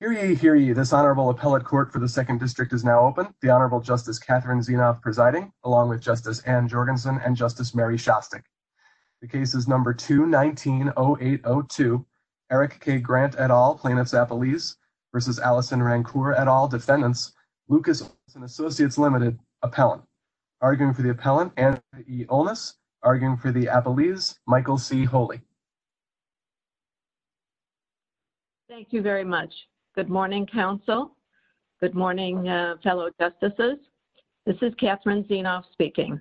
This honorable appellate court for the second district is now open. The Honorable Justice Catherine Zenoff presiding, along with Justice Anne Jorgensen and Justice Mary Shostak. The case is number 2-19-0802. Eric K. Grant et al., plaintiff's appellees, versus Allison Rancour et al., defendants, Lucas & Associates Ltd., appellant. Arguing for the appellant Anne E. Onus. Arguing for the appellees, Michael C. Holey. Thank you very much. Good morning, counsel. Good morning, fellow justices. This is Catherine Zenoff speaking.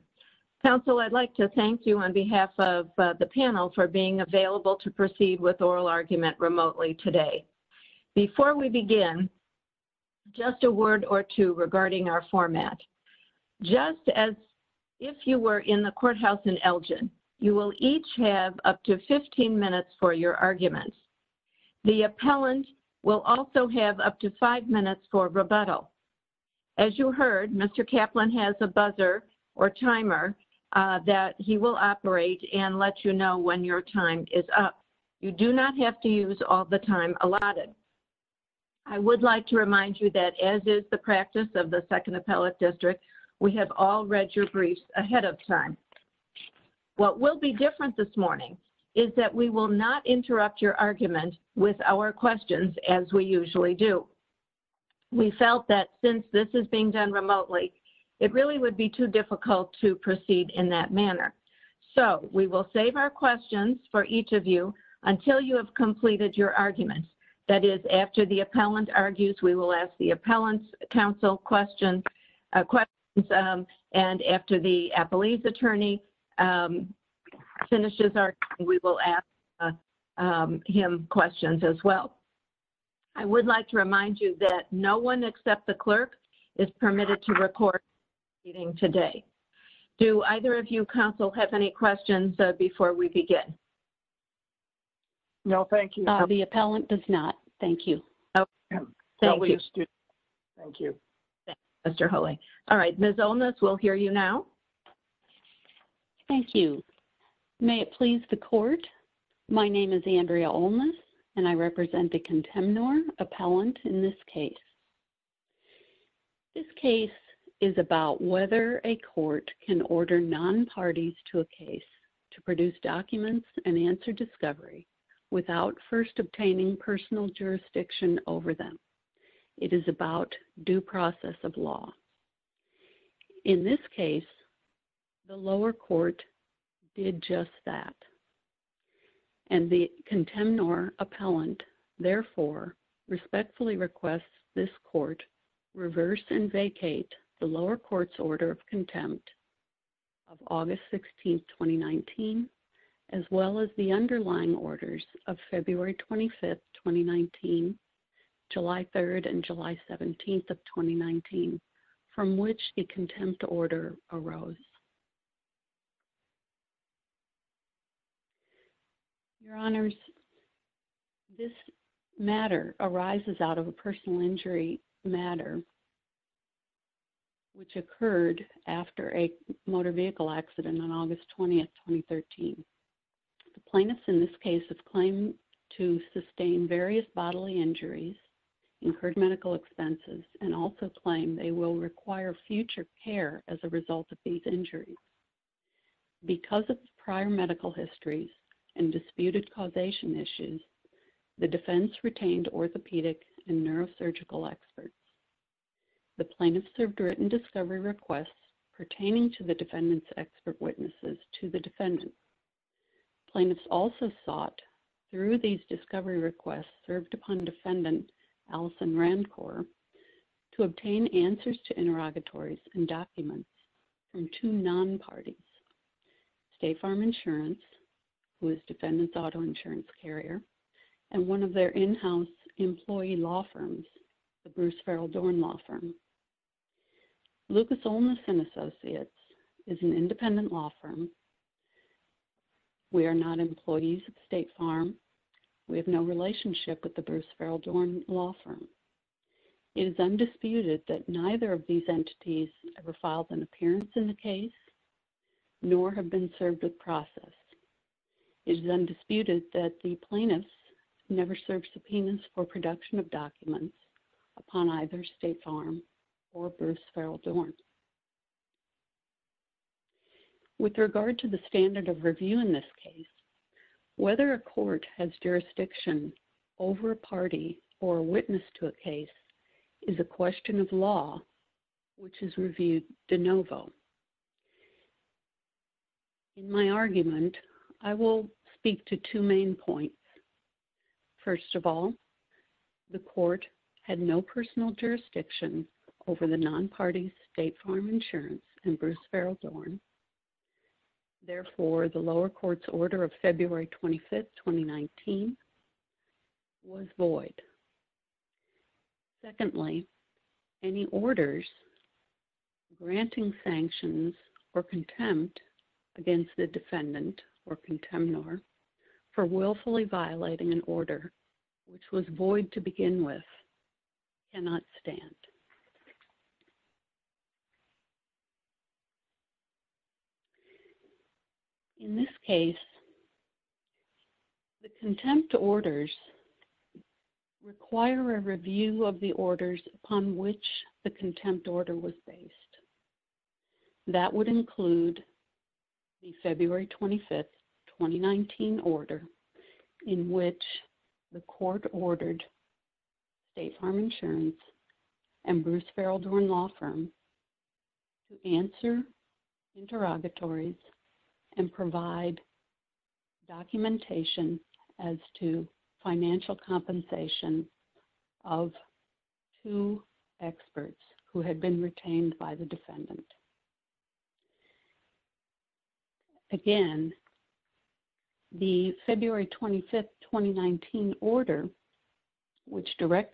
Counsel, I'd like to thank you on behalf of the panel for being available to proceed with oral argument remotely today. Before we begin, just a word or two regarding our format. Just as if you were in the courthouse in Elgin, you will each have up to 15 minutes for your argument. The appellant will also have up to 5 minutes for rebuttal. As you heard, Mr. Kaplan has a buzzer or timer that he will operate and let you know when your time is up. You do not have to use all the time allotted. I would like to remind you that as is the practice of the Second Appellate District, we have all read your briefs ahead of time. What will be different this morning is that we will not interrupt your argument with our questions as we usually do. We felt that since this is being done remotely, it really would be too difficult to proceed in that manner. So we will save our questions for each of you until you have completed your arguments. That is, after the appellant argues, we will ask the appellant's counsel questions. And after the appellee's attorney finishes our argument, we will ask him questions as well. I would like to remind you that no one except the clerk is permitted to report today. Do either of you counsel have any questions before we begin? No, thank you. The appellant does not. Thank you. Okay. Thank you. Thank you. Thank you, Mr. Holey. All right, Ms. Olnitz, we'll hear you now. Thank you. May it please the court, my name is Andrea Olnitz and I represent the Contemnor appellant in this case. This case is about whether a court can order non-parties to a case to produce documents and answer discovery without first obtaining personal jurisdiction over them. It is about due process of law. In this case, the lower court did just that. And the Contemnor appellant, therefore, respectfully requests this court reverse and vacate the lower court's order of contempt of August 16th, 2019, as well as the underlying orders of February 25th, 2019, July 3rd, and July 17th of 2019, from which the contempt order arose. Your Honors, this matter arises out of a personal injury matter which occurred after a motor vehicle accident on August 20th, 2013. The plaintiffs in this case have claimed to sustain various bodily injuries, incurred medical expenses, and also claim they will require future care as a result of these injuries. Because of prior medical histories and disputed causation issues, the defense retained orthopedic and neurosurgical experts. The plaintiffs served written discovery requests pertaining to the defendant's expert witnesses to the defendant. Plaintiffs also sought, through these discovery requests served upon defendant Allison Randcor, to obtain answers to interrogatories and documents from two non-parties, State Farm Insurance, who is defendant's auto insurance carrier, and one of their in-house employee law firms, the Bruce Farrell Dorn law firm. Lucas Olmos & Associates is an independent law firm. We are not employees of State Farm. We have no relationship with the Bruce Farrell Dorn law firm. It is undisputed that neither of these entities ever filed an appearance in the case, nor have been served with process. It is undisputed that the plaintiffs never served subpoenas for production of documents upon either State Farm or Bruce Farrell Dorn. With regard to the standard of review in this case, whether a court has jurisdiction over a party or a witness to a case is a question of law, which is reviewed de novo. In my argument, I will speak to two main points. First of all, the court had no personal jurisdiction over the non-parties, State Farm Insurance, and Bruce Farrell Dorn. Therefore, the lower court's order of February 25th, 2019, was void. Secondly, any orders granting sanctions or contempt against the defendant or contemnor for willfully violating an order, which was In this case, the contempt orders require a review of the orders upon which the contempt order was based. That would include the February 25th, 2019 order in which the court ordered State Farm Insurance and Bruce Farrell Dorn Law Firm to answer interrogatories and provide documentation as to financial compensation of two experts who had been retained by the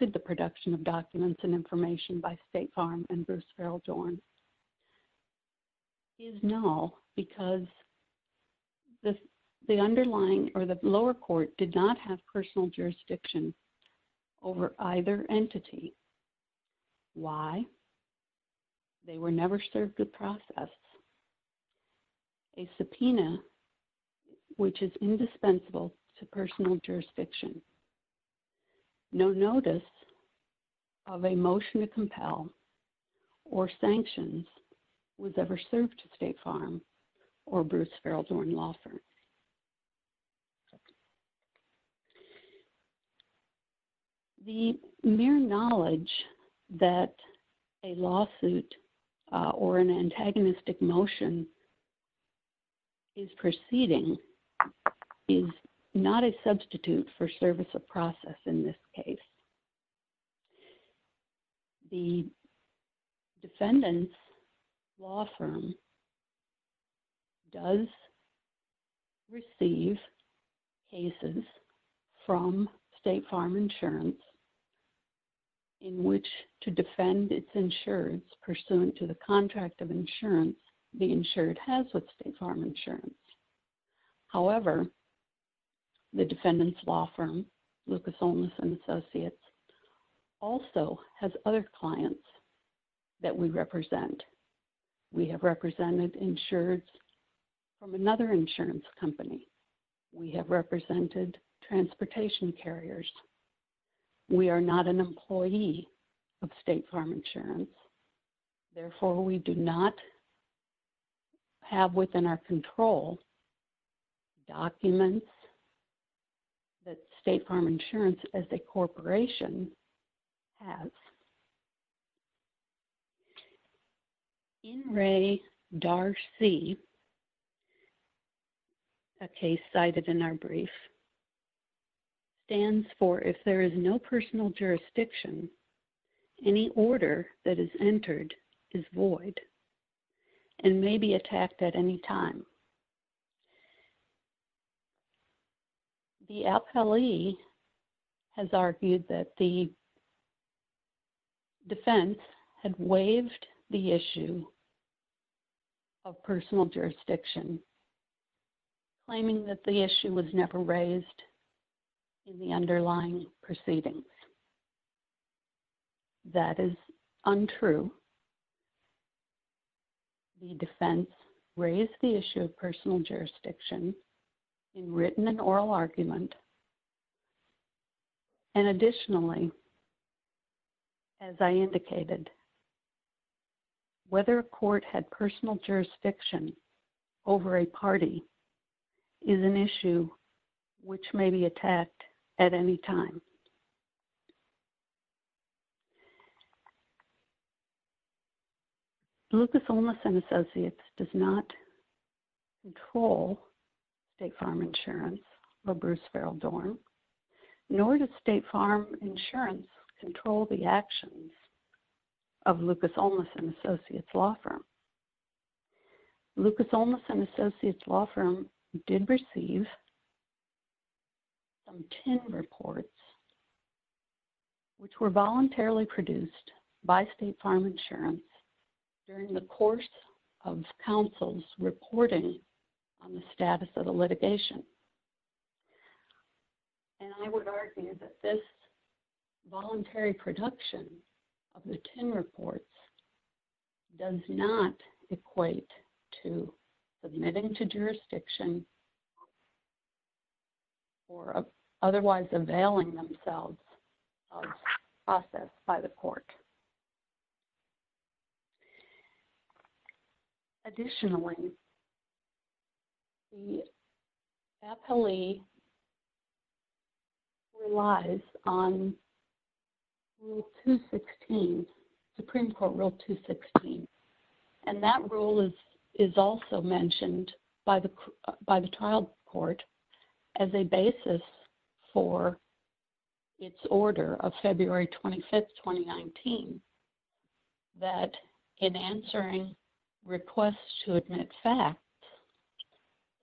the production of documents and information by State Farm and Bruce Farrell Dorn is null because the underlying or the lower court did not have personal jurisdiction over either entity. Why? They were never served the process. A subpoena, which is indispensable to personal jurisdiction. No notice of a motion to compel or sanctions was ever served to State Farm or Bruce Farrell Dorn Law Firm. The mere knowledge that a lawsuit or an antagonistic motion is proceeding is not a substitute for service of process in this case. The defendant's law firm does receive cases from State Farm Insurance in which to defend its insurance pursuant to the However, the defendant's law firm, Lucas, Olmos and Associates, also has other clients that we represent. We have represented insured from another insurance company. We have represented transportation carriers. We are not an employee of State Farm Insurance. Therefore, we do not have within our control documents that State Farm Insurance as a corporation has. N. Ray Darcy, a case cited in our brief, stands for if there is no personal jurisdiction, any order that is entered is void and may be attacked at any time. The appellee has argued that the defense had waived the issue of personal jurisdiction, claiming that the issue was never raised in the underlying proceedings. That is untrue. The defense raised the issue of personal jurisdiction in written and oral argument. And additionally, as I indicated, whether a court had personal jurisdiction over a party is an issue which may be attacked at any time. Lucas, Olmos and Associates does not control State Farm Insurance or Bruce Farrell Dorn, nor does State Farm Insurance control the actions of Lucas, Olmos and Associates law firm. Lucas, Olmos and Associates law firm did receive some TIN reports which were voluntarily produced by State Farm Insurance during the course of counsel's reporting on the status of the litigation. And I would argue that this voluntary production of the TIN reports does not equate to submitting to jurisdiction or otherwise availing themselves of process by the court. Additionally, the appellee relies on Rule 216, Supreme Court Rule 216. And that rule is also mentioned by the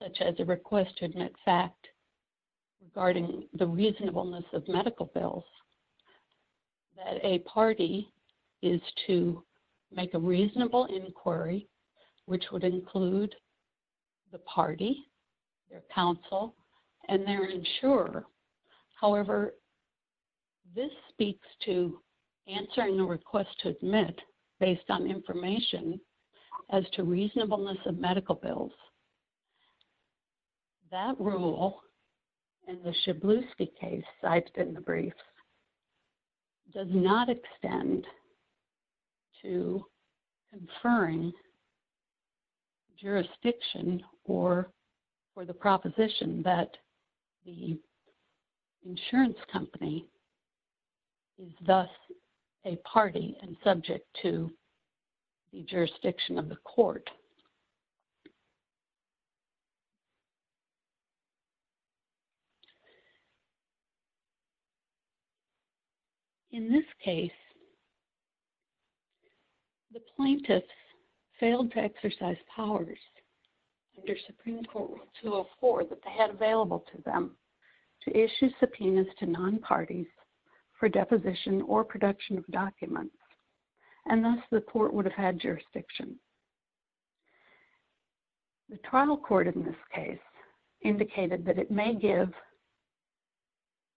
such as a request to admit fact regarding the reasonableness of medical bills. That a party is to make a reasonable inquiry, which would include the party, their counsel, and their insurer. However, this speaks to answering the request to admit based on information as to reasonableness of medical bills. That rule in the Shibluski case cited in the brief does not extend to insurance company is thus a party and subject to the jurisdiction of the court. In this case, the plaintiffs failed to exercise powers under Supreme Court Rule 204 that they issue subpoenas to non-parties for deposition or production of documents. And thus, the court would have had jurisdiction. The trial court in this case indicated that it may give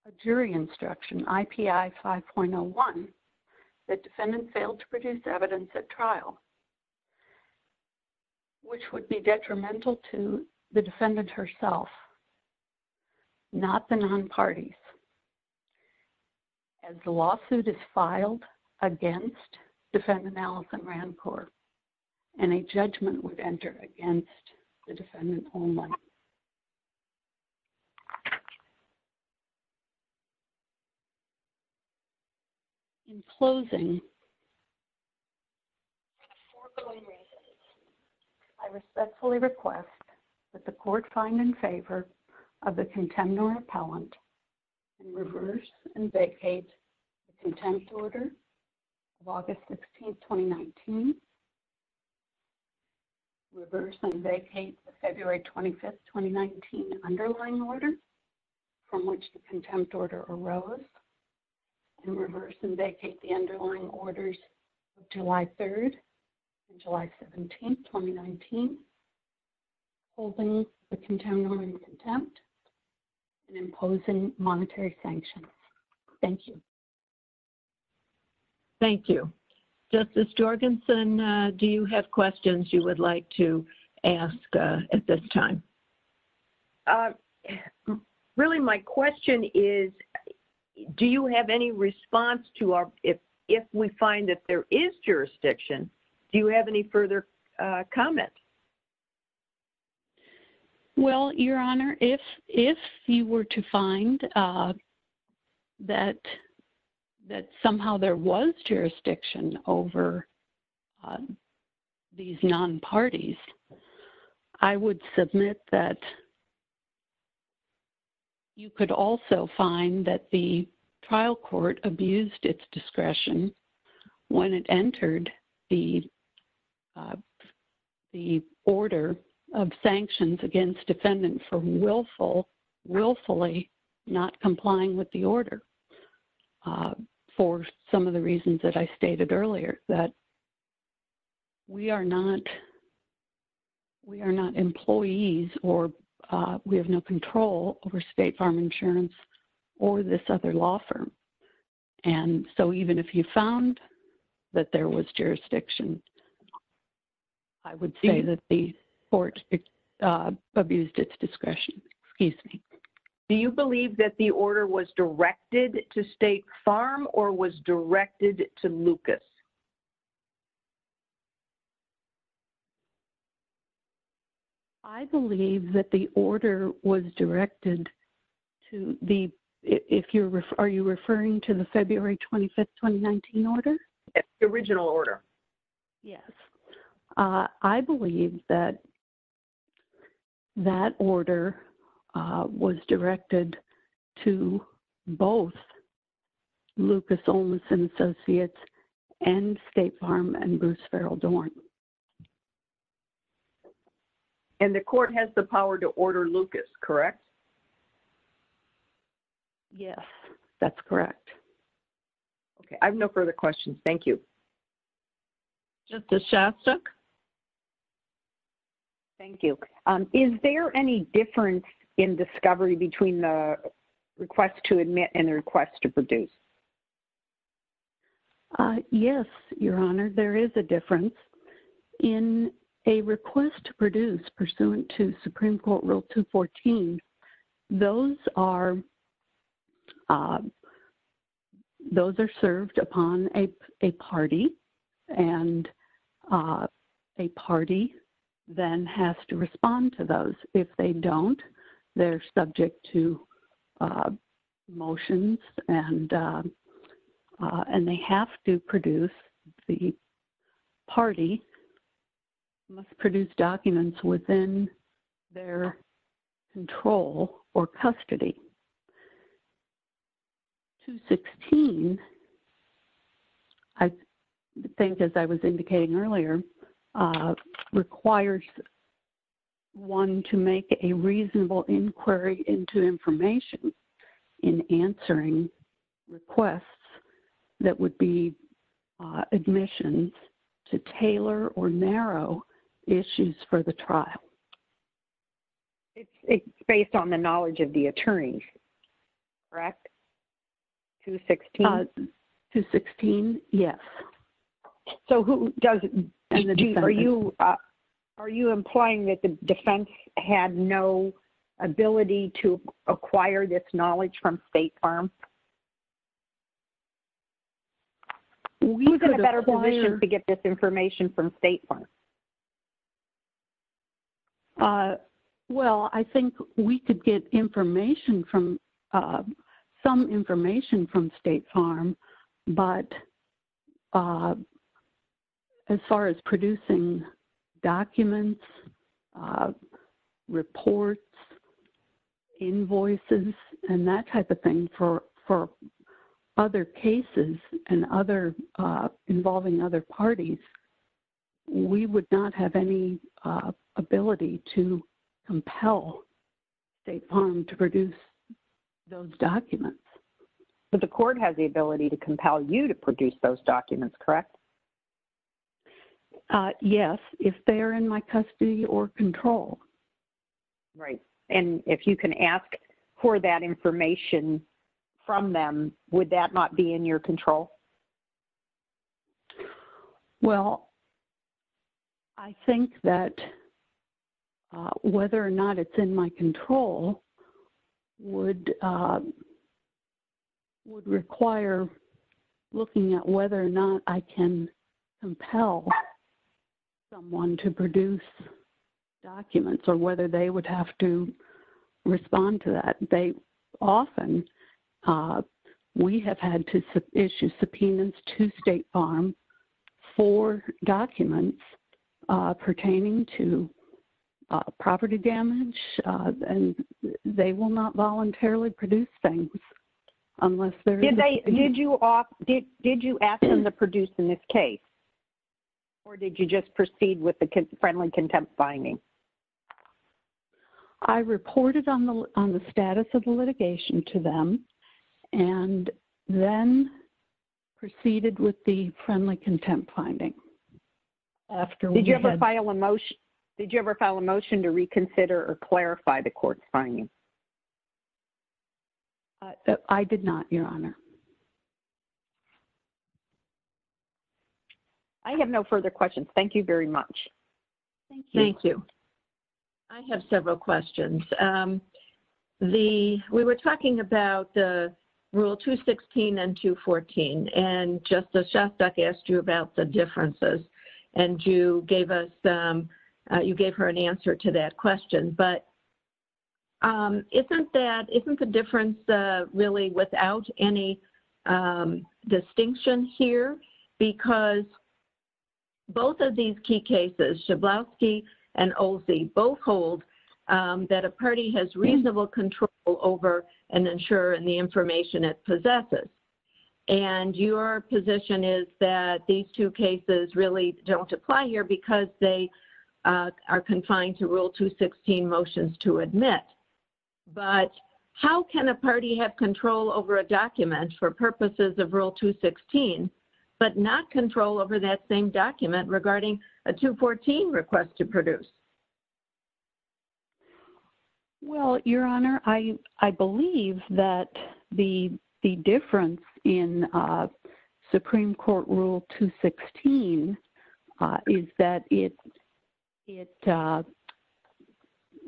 a jury instruction, IPI 5.01, that defendant failed to produce evidence at trial, which would be non-parties. As the lawsuit is filed against defendant Allison Rancourt, any judgment would enter against the defendant only. In closing, I respectfully request that the court find in reverse and vacate the contempt order of August 16, 2019. Reverse and vacate the February 25, 2019 underlying order from which the contempt order arose. And reverse and vacate the underlying imposing monetary sanctions. Thank you. Thank you. Justice Jorgensen, do you have questions you would like to ask at this time? Really, my question is, do you have any response to our-if we find that there is jurisdiction, do you have any further comments? Well, Your Honor, if you were to find that somehow there was jurisdiction over these non-parties, I would submit that you could also find that the trial court abused its discretion when it ordered sanctions against defendants for willfully not complying with the order. For some of the reasons that I stated earlier, that we are not-we are not employees or we have no control over State Farm Insurance or this other law firm. And so even if you found that there was jurisdiction, I would say that the court abused its discretion. Excuse me. Do you believe that the order was directed to State Farm or was directed to Lucas? I believe that the order was directed to the-if you're-are you referring to the February 25, 2019 order? The original order. Yes. I believe that that order was directed to both Lucas Olmstead Associates and State Farm and Bruce Farrell Dorn. And the court has the power to order Lucas, correct? Yes, that's correct. Okay. I have no further questions. Thank you. Justice Shastook? Thank you. Is there any difference in discovery between the request to admit and a request to produce? Yes, Your Honor. There is a difference. In a request to produce pursuant to Supreme Court Rule 214, those are served upon a party and a party then has to respond to those. If they don't, they're subject to motions and they have to produce-the party must produce documents within their control or custody. 216, I think as I was indicating earlier, requires one to make a reasonable inquiry into information in answering requests that would be admissions to tailor or It's based on the knowledge of the attorney, correct? 216? 216, yes. So who does-are you implying that the defense had no ability to acquire this knowledge from State Farm? We have a better permission to get this information from State Farm. Well, I think we could get information from-some information from State Farm, but as far as producing documents, reports, invoices, and that type of thing for other cases and other- we would not have any ability to compel State Farm to produce those documents. But the court has the ability to compel you to produce those documents, correct? Yes, if they're in my custody or control. Right. And if you can ask for that information from them, would that not be in your control? Well, I think that whether or not it's in my control would require looking at whether or not I can compel someone to produce documents or whether they would have to respond to that. They often-we have had to issue subpoenas to State Farm for documents pertaining to property damage, and they will not voluntarily produce things unless they're- Did they-did you ask them to produce in this case? Or did you just proceed with the friendly contempt finding? I reported on the-on the status of the litigation to them and then proceeded with the friendly contempt finding. After we had- Did you ever file a motion-did you ever file a motion to reconsider or clarify the court's finding? I did not, Your Honor. I have no further questions. Thank you very much. Thank you. I have several questions. The-we were talking about the Rule 216 and 214, and Justice Shostak asked you about the differences, and you gave us-you gave her an answer to that question. But isn't that-isn't the difference really without any distinction here? Because both of these key cases, Shablowski and Olsey, both hold that a party has reasonable control over and ensure the information it possesses. And your position is that these two cases really don't apply here because they are confined to Rule 216 motions to admit. But how can a party have control over a document for purposes of Rule 216 but not control over that same document regarding a 214 request to produce? Well, Your Honor, I believe that the difference in Supreme Court Rule 216 is that it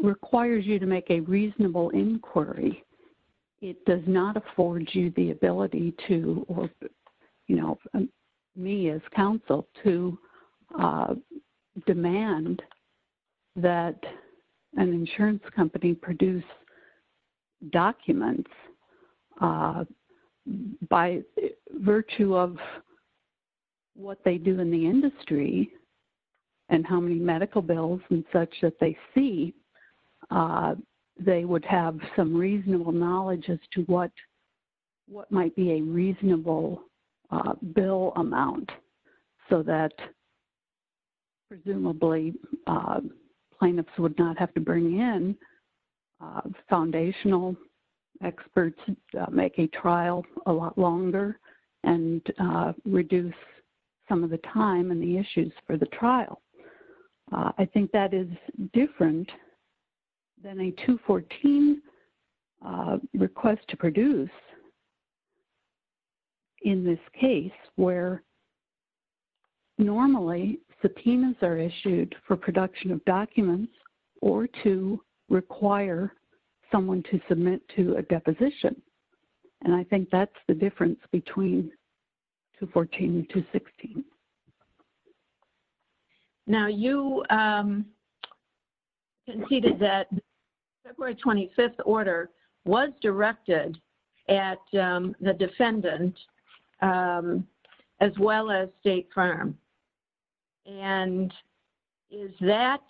requires you to make a reasonable inquiry. It does not afford you the ability to, or, you know, me as counsel, to demand that an insurance company produce documents by virtue of what they do in the industry and how many medical bills and such that they see. They would have some reasonable knowledge as to what might be a reasonable bill amount so that presumably plaintiffs would not have to bring in foundational experts to make a trial a lot longer and reduce some of the time and the issues for the trial. I think that is different than a 214 request to produce documents in this case where normally subpoenas are issued for production of documents or to require someone to submit to a deposition. And I think that's the difference between 214 and 216. Now, you conceded that the February 25th order was directed at the defendant as well as State Farm. And is that,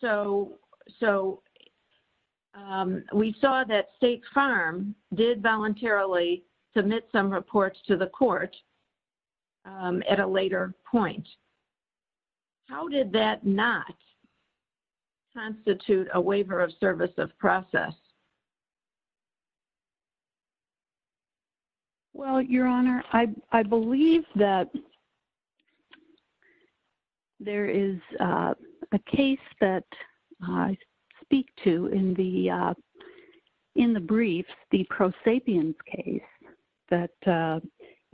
so we saw that State Farm did voluntarily submit some reports to the court at a later point. How did that not constitute a waiver of service of process? Well, Your Honor, I believe that there is a case that I speak to in the brief, the prosapiens case that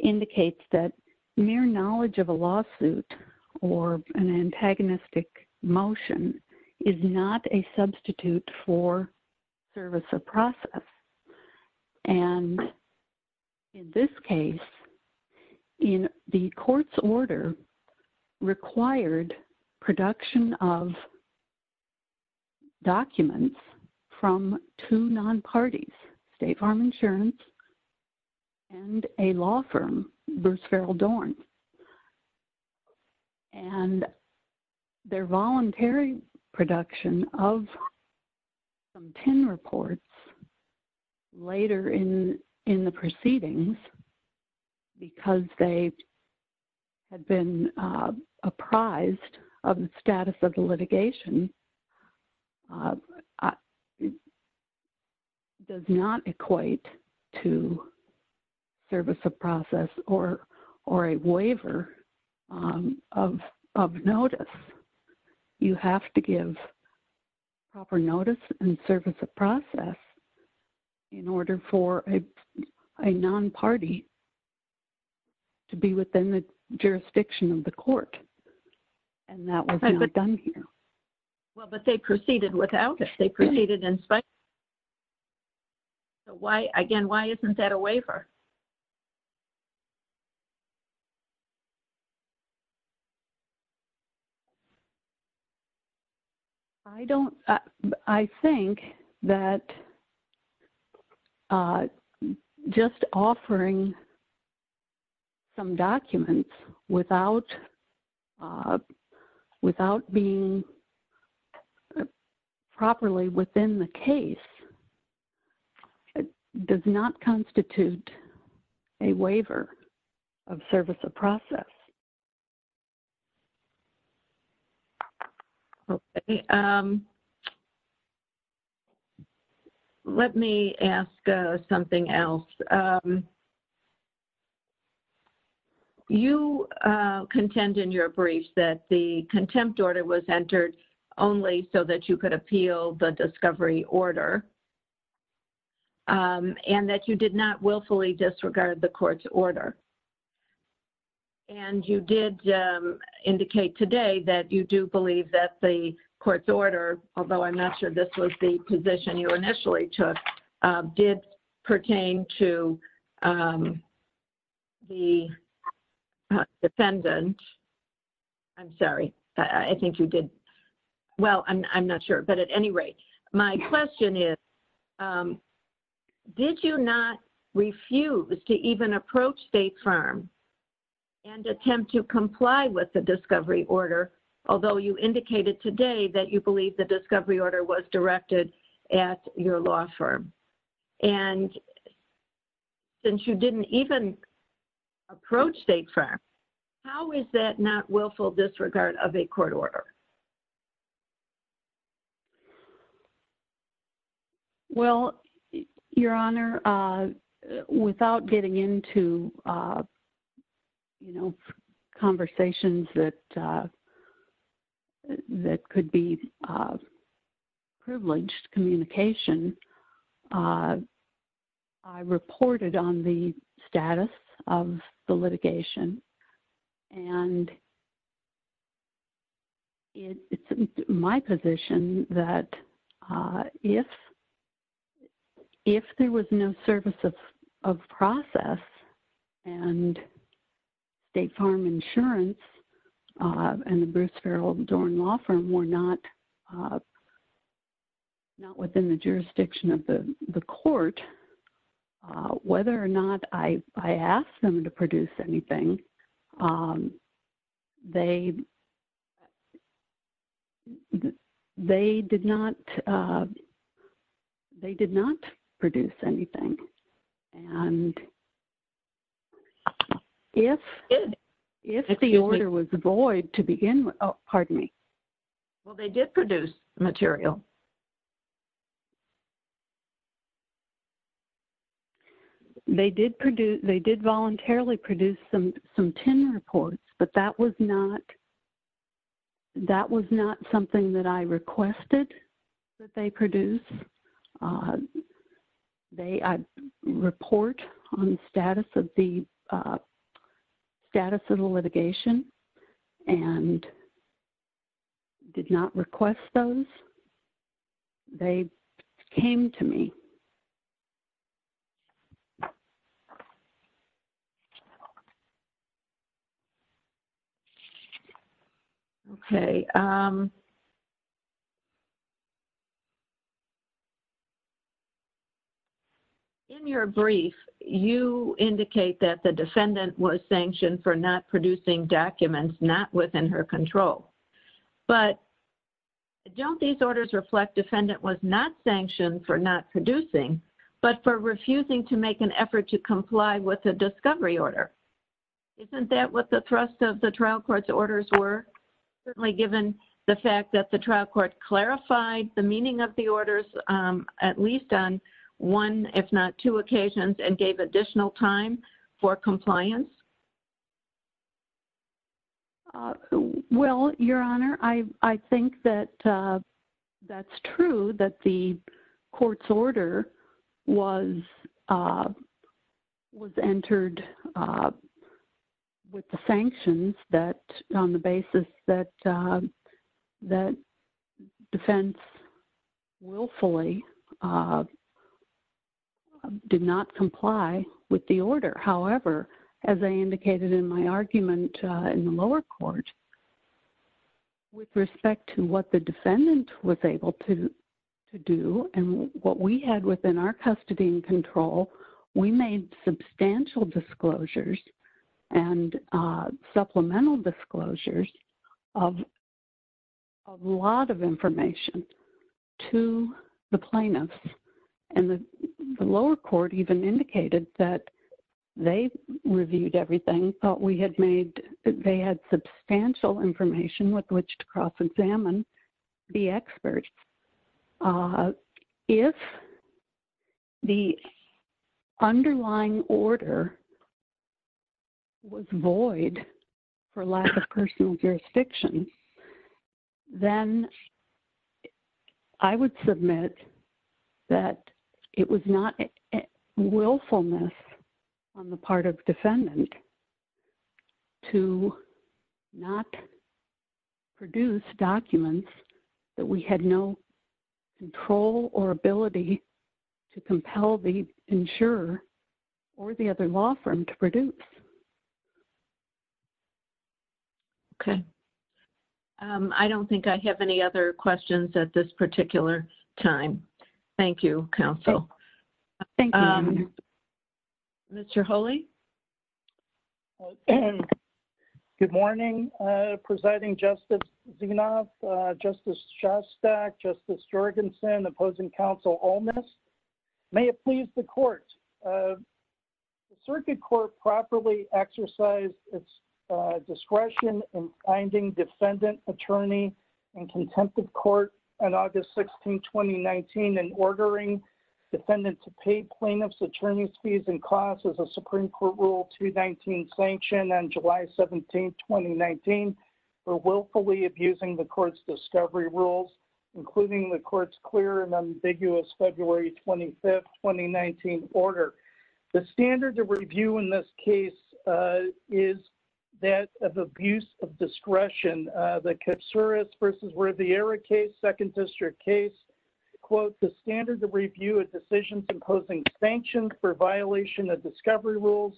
indicates that mere knowledge of a lawsuit or an antagonistic motion is not a substitute for service of process. And in this case, in the court's order required production of documents from two non-parties, State Farm Insurance and a law firm, Bruce Farrell Dorn. And their voluntary production of some PIN reports later in the proceedings because they had been apprised of the status of the litigation does not equate to service of process or a waiver of notice. You have to give proper notice and service of process in order for a non-party to be within the jurisdiction of the court. And that was not done here. Well, but they proceeded without it. They proceeded in spite. So why, again, why isn't that a waiver? I don't, I think that just offering some documents without being properly within the case does not constitute a waiver of service of process. Let me ask something else. You contend in your brief that the contempt order was entered only so that you could appeal the discovery order and that you did not willfully disregard the court's order. And you did indicate today that you do believe that the court's order, although I'm not sure this was the position you initially took, did pertain to the defendant. I'm sorry. I think you did. Well, I'm not sure. But at any rate, my question is, did you not refuse to even approach state firms and attempt to comply with the discovery order, although you indicated today that you believe the discovery order was directed at your law firm? And since you didn't even approach state firms, how is that not willful disregard of a court order? Well, Your Honor, without getting into, you know, conversations that could be privileged communication, I reported on the status of the litigation and it's my position that if there was no service of process and state farm insurance and the Bruce Farrell Dorn Law Firm were not within the jurisdiction of the court, whether or not I asked them to produce anything, they did not produce anything. And if the order was void to begin with, pardon me. Well, they did produce material. They did produce, they did voluntarily produce some ten reports, but that was not, that was not something that I requested that they produce. They report on status of the status of the litigation and did not request those. They came to me and said, okay, in your brief, you indicate that the defendant was sanctioned for not producing documents, not within her control. But don't these orders reflect defendant was not sanctioned for not producing, but for refusing to make an effort to comply with the discovery order. Isn't that what the thrust of the trial court's orders were, certainly given the fact that the trial court clarified the meaning of the orders, at least on one, if not two occasions, and gave additional time for compliance? Well, Your Honor, I think that that's true that the order was entered with the sanctions that on the basis that defense willfully did not comply with the order. However, as I indicated in my argument in the lower court, with respect to what the defendant was able to do and what we had within our custody and control, we made substantial disclosures and supplemental disclosures of a lot of information to the plaintiffs. And the lower court even indicated that they reviewed everything, thought we had made, they had substantial information with which to cross-examine the experts. If the underlying order was void for lack of personal jurisdiction, then I would submit that it was not willfulness on the part of defendant to not produce documents that we had no control or ability to compel the insurer or the other law firm to produce. Okay. I don't think I have any other questions at this particular time. Thank you, counsel. Thank you. Mr. Holey? Good morning, Presiding Justice Zinov, Justice Shostak, Justice Jorgensen, opposing counsel Olmos. May it please the court. The circuit court properly exercised its discretion in finding defendant, attorney, and contempt of court on August 16, 2019, and ordering defendant to pay plaintiff's attorney fees and costs as a Supreme Court Rule 219 sanction on an ambiguous February 25, 2019, order. The standard of review in this case is that of abuse of discretion. The Katsuras v. Riviera case, second district case, the standard of review of decisions imposing sanctions for violation of discovery rules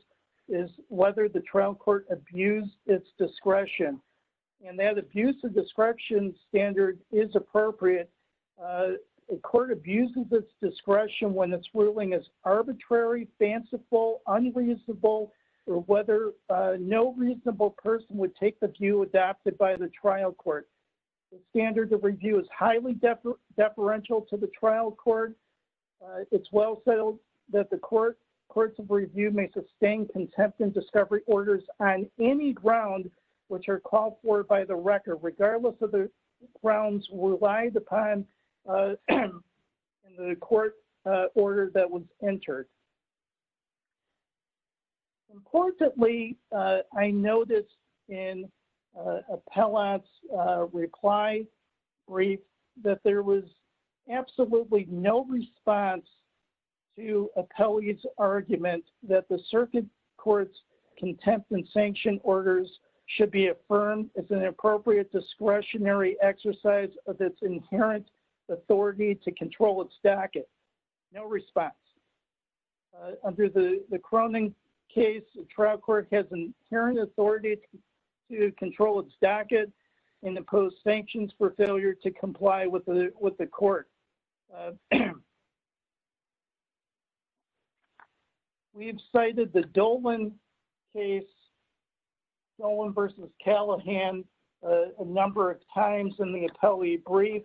is whether the trial court abused its discretion. And that abuse of discretion standard is appropriate a court abuses its discretion when its ruling is arbitrary, fanciful, unreasonable, or whether no reasonable person would take the view adopted by the trial court. The standard of review is highly deferential to the trial court. It's well settled that the courts of review may sustain contempt in discovery orders on any ground which are called for by the record, regardless of the grounds relied upon in the court order that was entered. Importantly, I noticed in Appellant's reply brief that there was absolutely no response to Appellant's argument that the circuit court's contempt and sanction orders should be affirmed as an appropriate discretionary exercise of its inherent authority to control its docket. No response. Under the Cronin case, the trial court has an inherent authority to control its docket and impose sanctions for failure to comply with the court. We've cited the Dolan case, Dolan v. Callahan, a number of times in the appellate brief.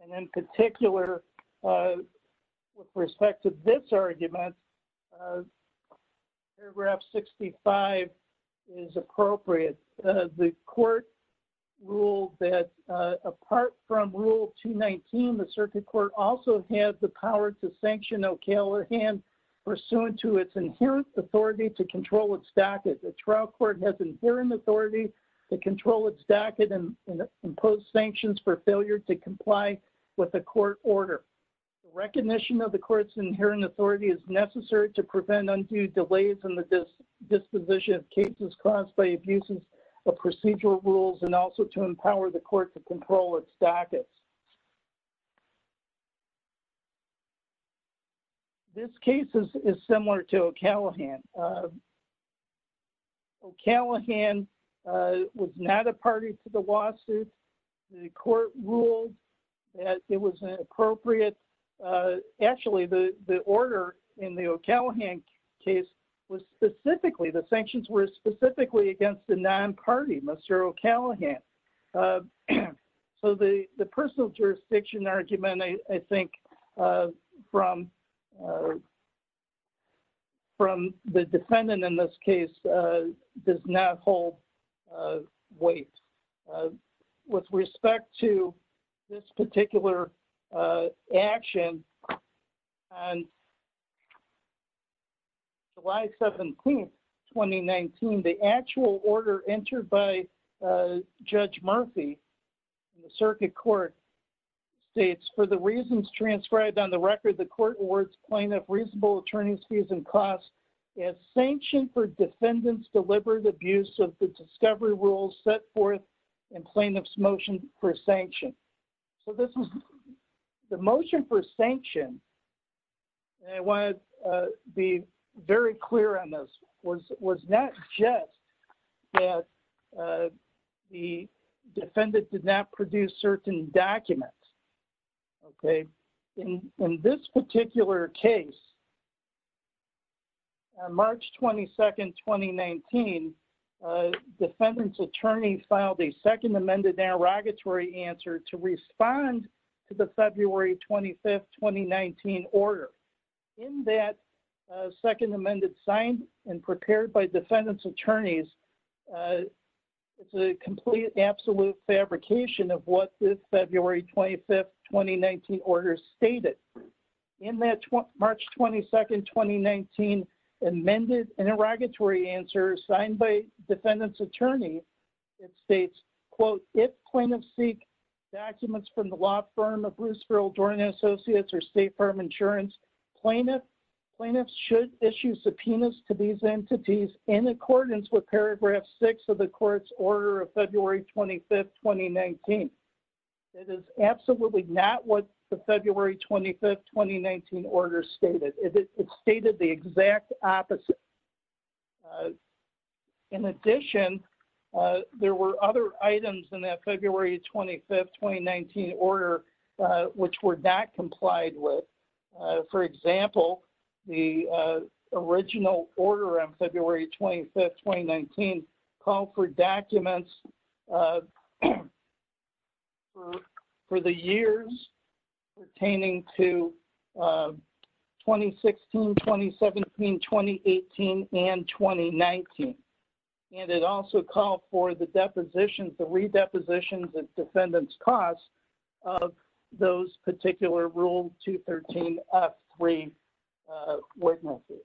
And in particular, with respect to this argument, paragraph 65 is appropriate. The court ruled that apart from Rule 219, the circuit court also has the power to sanction O'Callaghan pursuant to its inherent authority to control its docket. The trial court has inherent authority to control its docket and impose sanctions for failure to comply with the court order. Recognition of the court's inherent authority is necessary to prevent undue delays in the disposition of cases caused by abuses of procedural rules and also to empower the court to control its docket. This case is similar to O'Callaghan. O'Callaghan was not a party to the lawsuit. The court ruled that it was inappropriate. Actually, the order in the O'Callaghan case was specifically, the sanctions were specifically against the non-party, Monsieur O'Callaghan. So the personal jurisdiction argument, I think, from the defendant in this case does not hold weight. With respect to this particular action, on July 17th, 2019, the actual order entered by Judge Murphy in the circuit court states, for the reasons transcribed on the record, the court awards plaintiff reasonable attorney's fees and costs as sanction for defendant's deliberate abuse of the discovery rules set forth in plaintiff's motion for sanction. The motion for sanction, and I want to be very clear on this, was not just that the defendant did not produce certain documents. In this particular case, on March 22nd, 2019, defendant's attorney filed a second amended interrogatory answer to respond to the February 25th, 2019 order. In that second amended signed and prepared by defendant's attorneys, it's a complete absolute fabrication of what the February 25th, 2019 order stated. In that March 22nd, 2019 amended interrogatory answer signed by defendant's attorney, it states, quote, if plaintiff seeks documents from the law firm of Bruce Earl Dorning Associates or state firm insurance, plaintiff should issue subpoenas to these entities in accordance with paragraph six of the court's order of February 25th, 2019. It is absolutely not what the February 25th, 2019 order stated. It stated the exact opposite. In addition, there were other items in that February 25th, 2019 order which were not complied with. For example, the original order on February 25th, 2019 called for documents for the years pertaining to 2016, 2017, 2018, and 2019. It also called for the depositions, the defendant's costs of those particular rule 213F3 ordinances.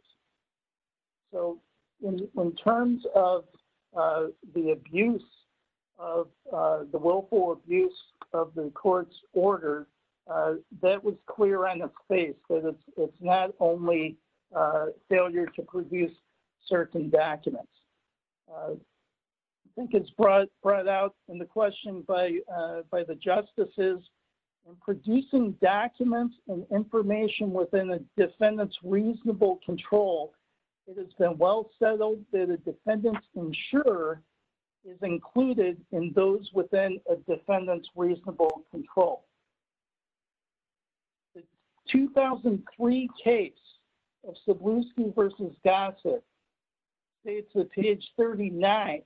So, in terms of the abuse of, the willful abuse of the court's order, that was clear on the face. It's not only failure to produce certain documents. I think it's brought out in the question by the justices. Producing documents and information within a defendant's reasonable control, it has been well settled that a defendant's insurer is included in those within a defendant's reasonable control. The 2003 case of Sabluski v. Dotson, page 349,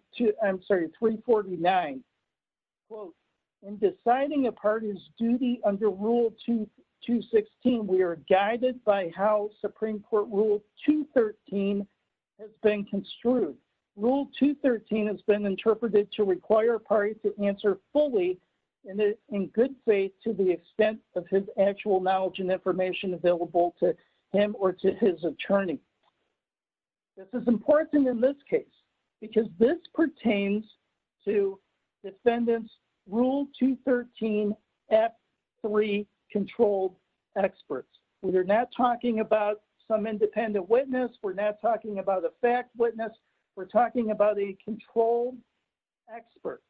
in deciding a party's duty under rule 216, we are guided by how Supreme Court rule 213 has been construed. Rule 213 has been interpreted to require a party to answer fully in good faith to the extent of his actual knowledge and information available to him or to his attorney. This is important in this case because this pertains to defendant's rule 213F3 controlled experts. We're not talking about some independent witness. We're not talking about a fact witness. We're talking about a controlled expert.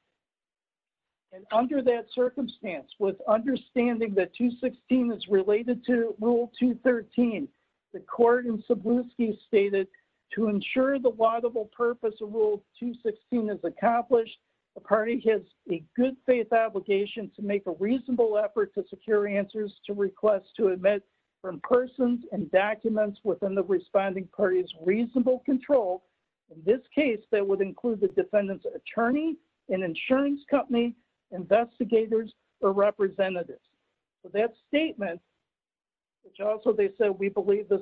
And under that circumstance, with understanding that 216 is related to rule 213, the court in Sabluski stated, to ensure the laudable purpose of rule 216 is accomplished, the party has a good faith obligation to make a reasonable effort to secure answers to requests to admit from persons and documents within the responding party's reasonable control. In this case, that would include the defendant's attorney, an insurance company, investigators, or representatives. So that statement, which also they said we believe this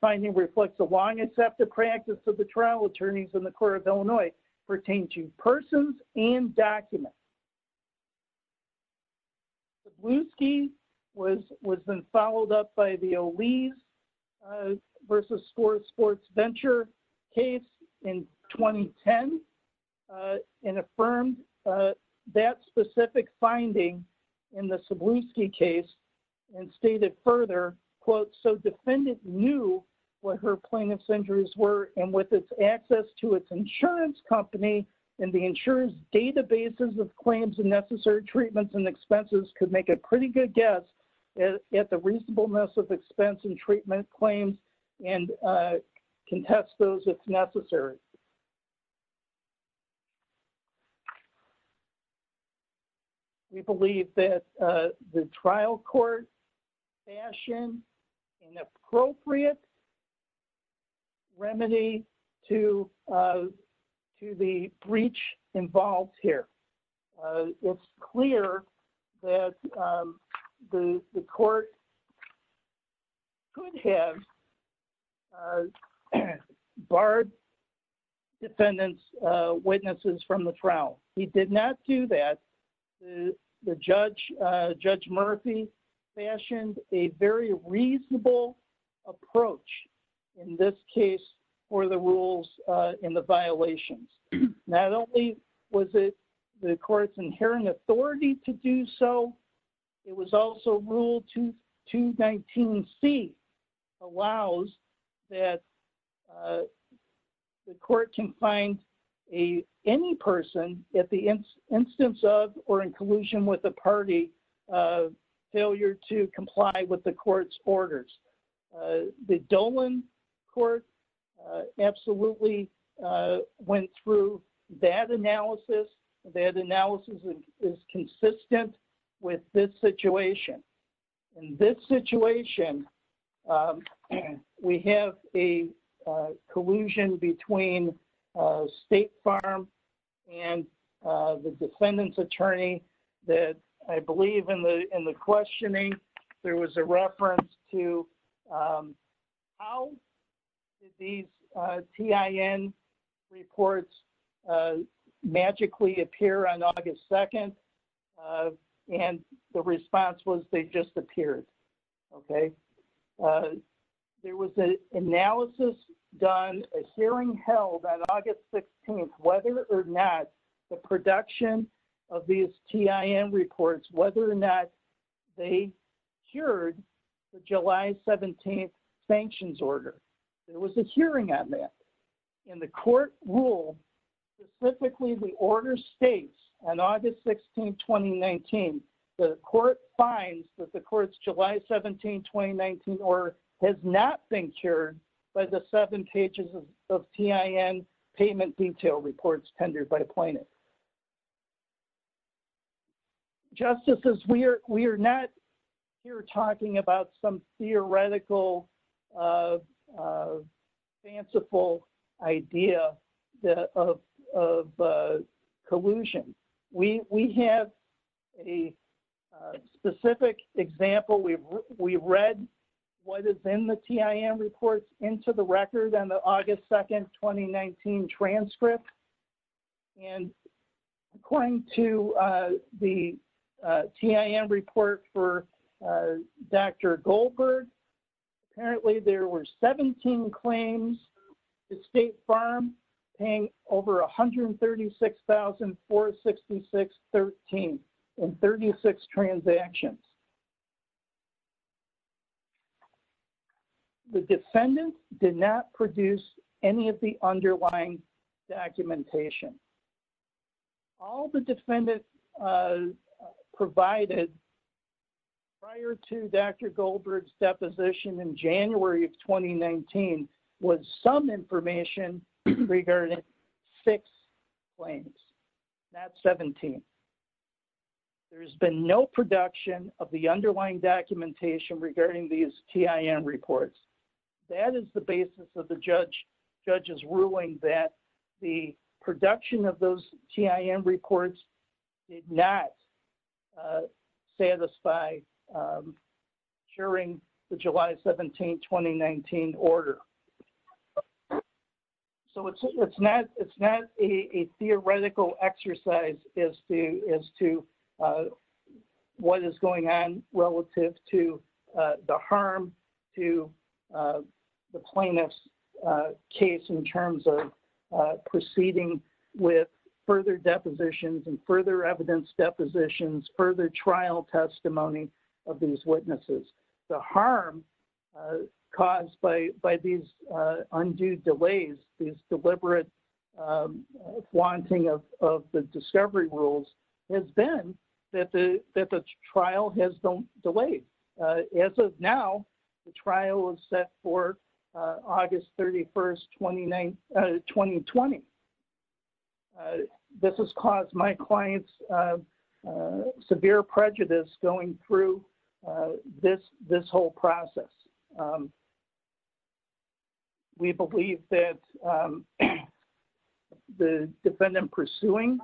finding reflects the long accepted practice of trial attorneys in the court of Illinois pertaining to persons and documents. Sabluski was followed up by the O'Leary versus sports venture case in 2010 and affirmed that specific finding in the Sabluski case and stated further, quote, so defendant knew what her injuries were and with its access to its insurance company and the insurance databases of claims and necessary treatments and expenses could make a pretty good guess at the reasonableness of expense and treatment claims and can test those if necessary. We believe that the trial court fashioned an appropriate remedy to the breach involved here. It's clear that the court could have barred defendant's witnesses from the trial. He did not do that. The judge, Judge Murphy, fashioned a very reasonable approach in this case for the rules and the violations. Not only was it the court's inherent authority to do so, it was also rule 219C allows that the court can find any person at the instance of or with the party failure to comply with the court's orders. The Dolan court absolutely went through that analysis. That analysis is consistent with this situation. In this situation, we have a collusion between State Farm and the defendant's attorney that I believe in the questioning, there was a reference to how did these TIN reports magically appear on August 2? And the response was they just appeared. There was an analysis done, a hearing held on August 16, whether or not the production of these TIN reports, whether or not they cured the July 17 sanctions order. There was a hearing on that. And the court ruled specifically the order states on August 16, 2019, the court finds that the court's July 17, 2019 order has not been cured by the seven pages of TIN payment detail reports tendered by plaintiffs. Justices, we are not here talking about some theoretical fanciful idea of collusion. We have a specific example. We read what is in the TIN report into the record on the August 2, 2019 transcript. And according to the TIN report for Dr. Goldberg, apparently there were 17 claims that State Farm paid over $136,466.13 in 36 transactions. The defendant did not produce any of the underlying documentation. All the defendants provided prior to Dr. Goldberg's deposition in January of 2019 was some information regarding six claims, not 17. There has been no production of the underlying documentation regarding these TIN reports. That is the basis of the judge's ruling that the production of those TIN reports did not satisfy during the July 17, 2019 order. So it is not a theoretical exercise as to what is going on relative to the harm to the plaintiff's case in terms of proceeding with further depositions and further evidence depositions, further trial testimony of these witnesses. The harm caused by these undue delays, these deliberate wanting of the discovery rules has been that the trial has been delayed. As of now, the trial is set for August 31, 2020. This has caused my clients severe prejudice going through this whole process. We believe that the defendant pursuing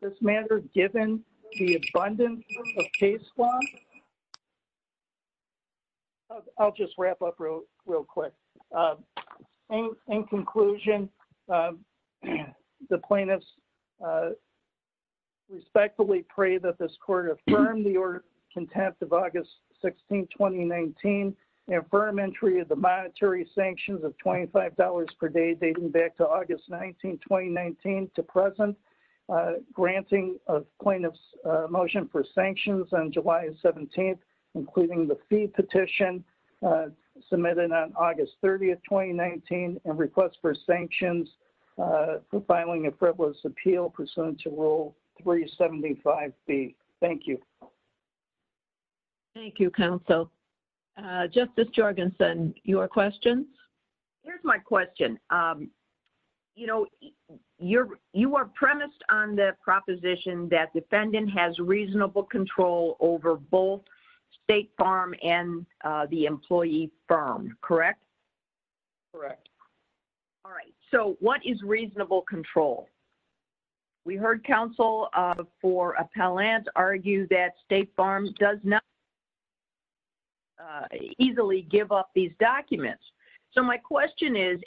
this matter, given the abundance of case law... I'll just wrap up real quick. In conclusion, the plaintiffs respectfully pray that this court affirm the order content of August 16, 2019 and affirm entry of the monetary sanctions of $25 per day dating back to August 19, 2019 to present, granting a plaintiff's motion for sanctions on July 17, including the fee petition submitted on August 30, 2019, and request for sanctions for filing a frivolous appeal pursuant to Rule 375B. Thank you. MARY JO GIOVACCHINI Thank you, counsel. Justice Jorgensen, your question? JOSEPHINE J. JORGENSEN Here's my question. You know, you are premised on the proposition that defendant has reasonable control over both State Farm and the employee firm, correct? MARY JO GIOVACCHINI Correct. All right. So what is reasonable control? We heard counsel for appellant argue that State Farm does not easily give off these documents. So my question is,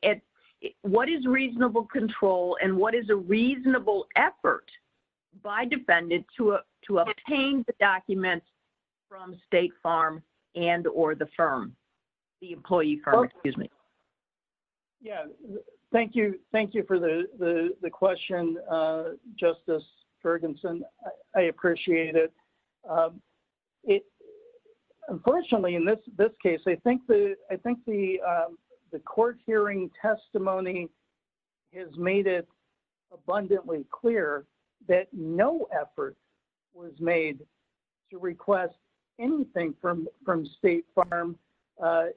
what is reasonable control and what is a reasonable effort by defendant to obtain the documents? JOSEPHINE J. JORGENSEN Yeah. Thank you. Thank you for the question, Justice Jorgensen. I appreciate it. Unfortunately, in this case, I think the court hearing testimony has made it abundantly clear that no effort was made to request anything from State Farm.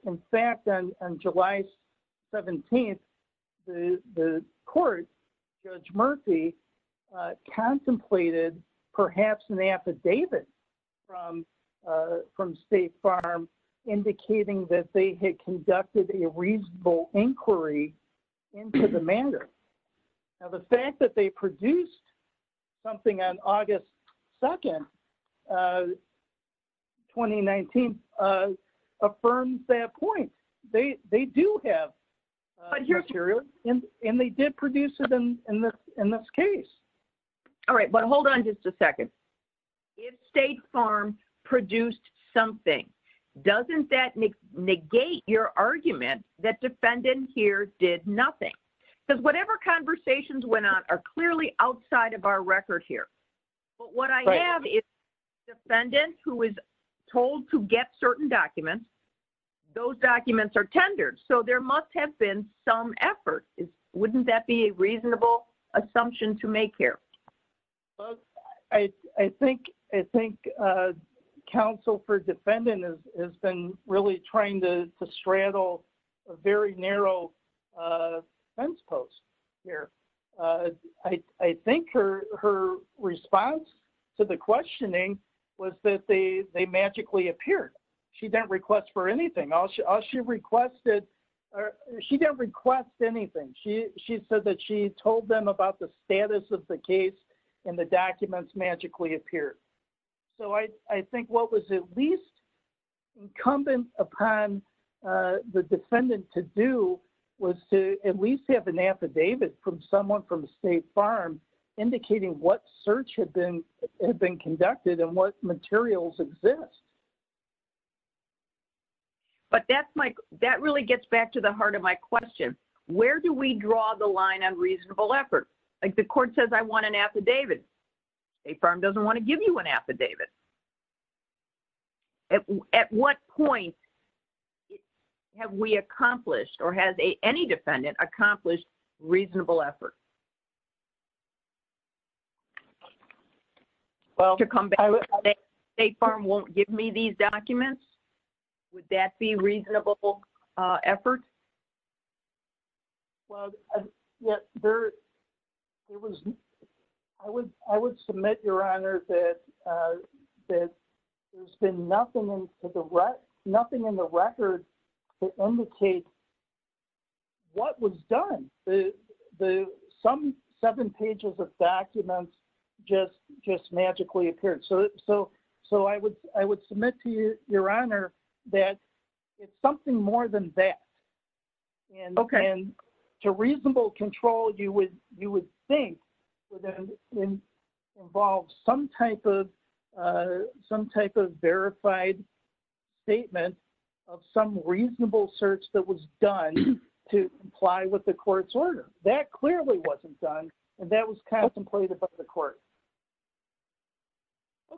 In fact, on July 17th, the court, Judge Murphy, contemplated perhaps an affidavit from State Farm indicating that they had conducted a reasonable inquiry into the matter. Now, the fact that they produced something on August 2nd, 2019, affirms that point. They do have material and they did produce it in this case. MARY JO GIOVACCHINI All right. But hold on just a second. If State Farm produced something, doesn't that negate your argument that defendant here did nothing? Because whatever conversations went on are clearly outside of our record here. But what I have is defendant who is told to get certain documents, those documents are tendered. So there must have been some effort. Wouldn't that be a reasonable assumption to make here? MARK GAFFNEY I think counsel for defendant has been really trying to straddle a very narrow fence post here. I think her response to the questioning was that they magically appeared. She didn't request for anything. She didn't request anything. She said that she told them about the status of the case and the documents magically appeared. So I think what was at least incumbent upon the defendant to do was to at least have an affidavit from someone from State Farm indicating what search had been conducted and what materials exist. MARY JO GIOVACCHINI But that's my, that really gets back to the heart of my question. Where do we draw the line on reasonable effort? Like the court says I want an affidavit. State Farm doesn't want to give you an affidavit. At what point have we accomplished or has any defendant accomplished reasonable effort? Well, to come back, State Farm won't give me these documents. Would that be reasonable effort? MARK GAFFNEY Well, I would submit, Your Honor, that nothing in the record indicates what was done. Some seven pages of documents just magically appeared. So I would submit to you, Your Honor, that it's something more than that. MARK GAFFNEY And to reasonable control, you would think involved some type of verified statement of some reasonable search that was done to comply with the court's order. That clearly wasn't done. That was contemplated by the court.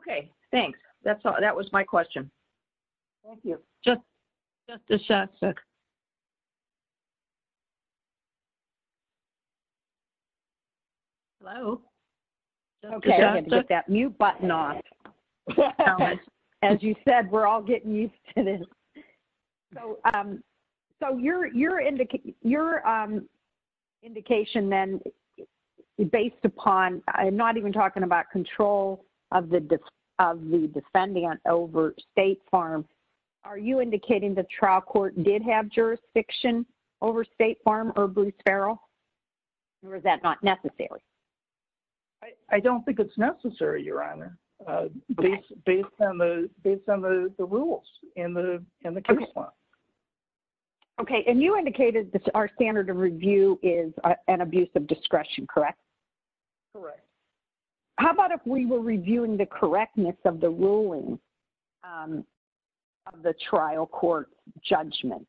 MARY JO GIOVACCHINI Okay. Thanks. That was my question. MARY JO GIOVACCHINI Thank you. MARY JO GIOVACCHINI Just a sec. MARY JO GIOVACCHINI Hello? MARY JO GIOVACCHINI Okay. I'm going to get that mute button off. As you said, we're all getting used to this. So your indication then, based upon, I'm not even talking about control of the defendant over State Farm, are you indicating the trial court did have jurisdiction over State Farm or Blue Sparrow, or is that not necessary? MARK GAFFNEY I don't think it's necessary, Your Honor, based on the rules in the case law. MARY JO GIOVACCHINI Okay. And you indicated that our standard of review is an abuse of discretion, correct? MARK GAFFNEY Correct. MARY JO GIOVACCHINI How about if we were reviewing the correctness of the ruling of the trial court's judgment?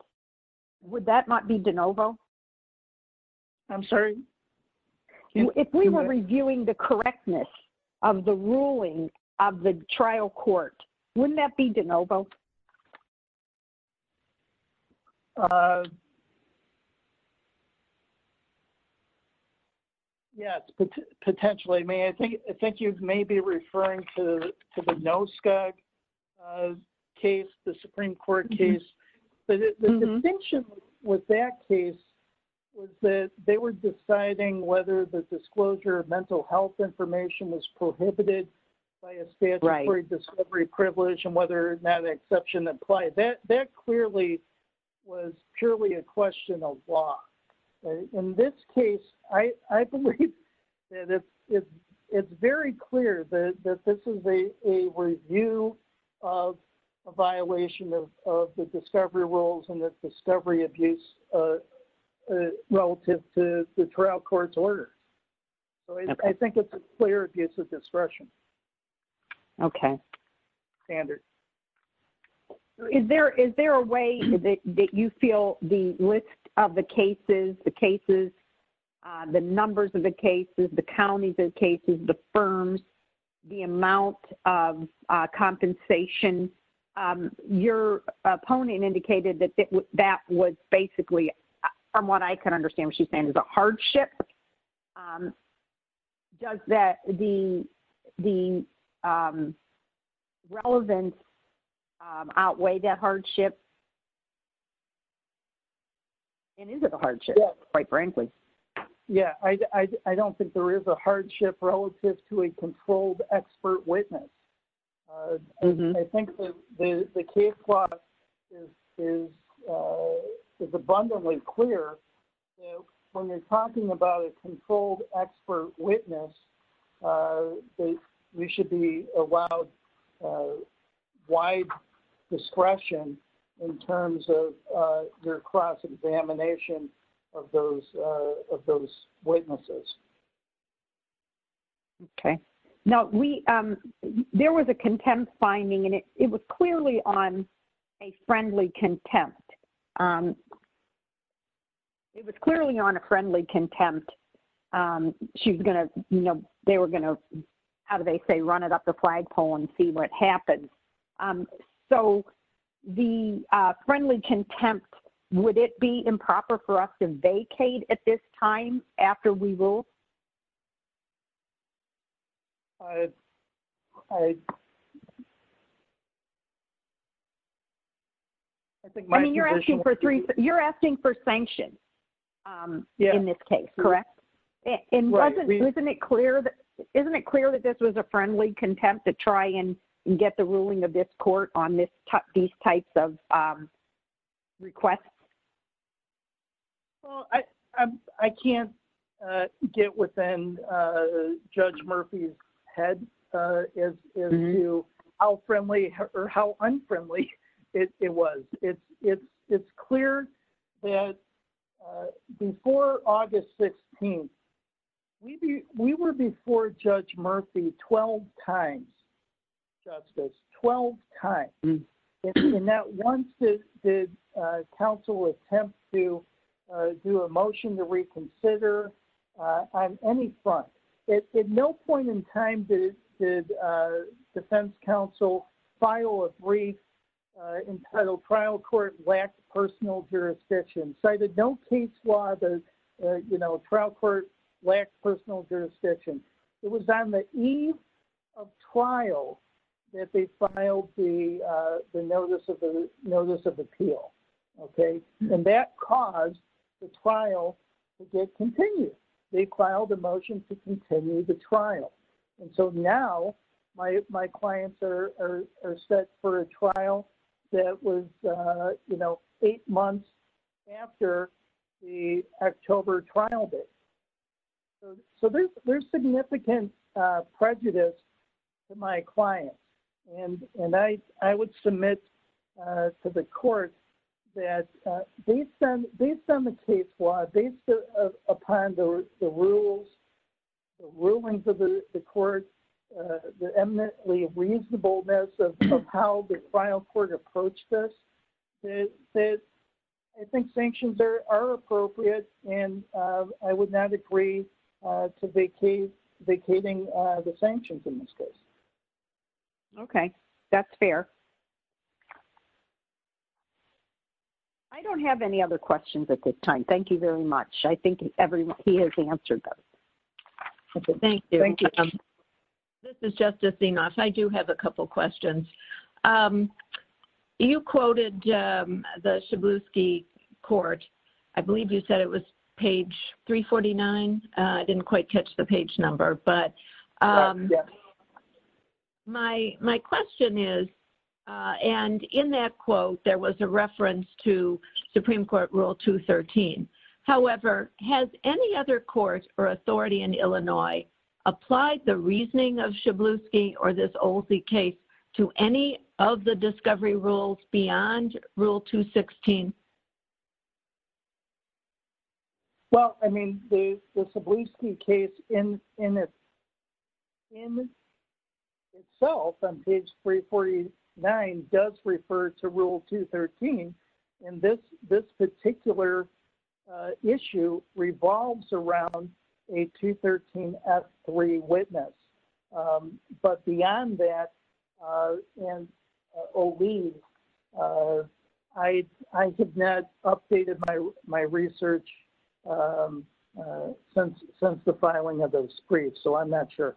Would that not be de novo? MARK GAFFNEY I'm sorry? MARY JO GIOVACCHINI If we were reviewing the correctness of the ruling of the trial court, wouldn't that be de novo? MARK GAFFNEY Yes, potentially. I think you may be referring to the NOSCA case, the Supreme Court case. But the distinction with that case was that they were deciding whether the disclosure of mental health information was prohibited by a statutory discovery privilege and whether that exception applied. That clearly was purely a question of law. In this case, I believe that it's very clear that this is a review of a violation of the discovery rules and the discovery abuse relative to the trial court's order. So I think it's a clear abuse of discretion. MARY JO GIOVACCHINI Okay. MARY JO GIOVACCHINI Standard. MARY JO GIOVACCHINI Is there a way that you feel the list of the cases, the cases, the numbers of the cases, the counties of cases, the firms, the amount of compensation, your opponent indicated that that was basically, from what I can understand what she's saying, the hardship? Does that the relevance outweigh that hardship? And is it a hardship, quite frankly? MARK GAFFNEY Yeah, I don't think there is a hardship relative to a controlled expert witness. I think the case law is abundantly clear. When you're talking about a controlled expert witness, we should be allowed wide discretion in terms of your cross-examination of those witnesses. MARY JO GIOVACCHINI Okay. Now, there was a contempt finding, and it was clearly on a friendly contempt. It was clearly on a friendly contempt. She was going to, you know, they were going to, how do they say, run it up the flagpole and see what happens. So the friendly contempt, would it be improper for us to vacate at this time after we rule? I mean, you're asking for three, you're asking for sanctions in this case, correct? Isn't it clear that this was a friendly contempt to try and get the ruling of this court on these types of requests? MARK GAFFNEY I can't get within Judge Murphy's head how unfriendly it was. It's clear that before August 16th, we were before Judge Murphy 12 times, Justice, 12 times. And not once did counsel attempt to do a motion to reconsider on any front. At no point in time did defense counsel file a brief entitled, Trial Court Lacks Personal Jurisdiction, cited no case law that, you know, trial court lacks personal jurisdiction. It was on the eve of trial that they filed the notice of appeal. Okay. And that caused the trial to get continued. They filed a motion to continue the trial. And so now, my clients are set for a trial that was, you know, eight months after the October trial date. So there's significant prejudice to my client. And I would submit to the court that based on the case law, based upon the rules, the rulings of the court, the eminently reasonableness of how the trial court approached this, I think sanctions are appropriate. And I would not agree to vacating the sanctions in this case. Okay. That's fair. I don't have any other questions at this time. Thank you very much. I think everyone here has answered those. Thank you. Thank you. This is Justice DeMoss. I do have a couple questions. You quoted the Cebulski Court. I believe you said it was page 349. I didn't quite catch the page number. But my question is, and in that quote, there was a reference to Supreme Court Rule 213. However, has any other court or authority in Illinois applied the reasoning of Cebulski or this Olsey case to any of the discovery rules beyond Rule 216? Well, I mean, the Cebulski case in itself on page 349 does refer to Rule 213. And this particular issue revolves around a 213F3 witness. But beyond that, I have not updated my research since the filing of those briefs. So I'm not sure.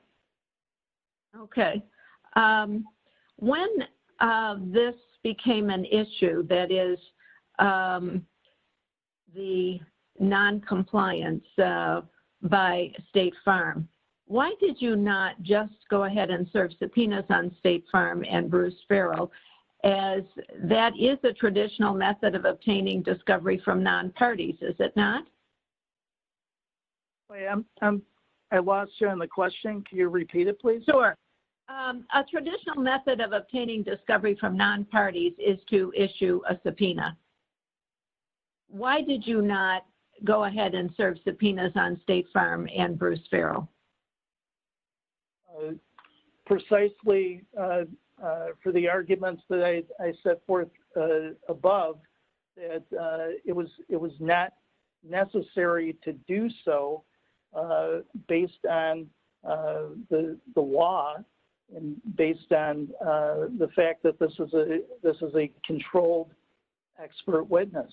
Okay. When this became an issue, that is, the noncompliance by State Farm, why did you not just go ahead and serve subpoenas on State Farm and Bruce Farrell as that is a traditional method of obtaining discovery from non-parties, is it not? I lost you on the question. Can you repeat it, please? Sure. A traditional method of obtaining discovery from non-parties is to issue a subpoena. Why did you not go ahead and serve subpoenas on State Farm and Bruce Farrell? Well, precisely for the arguments that I set forth above, that it was not necessary to do so based on the law and based on the fact that this is a controlled expert witness.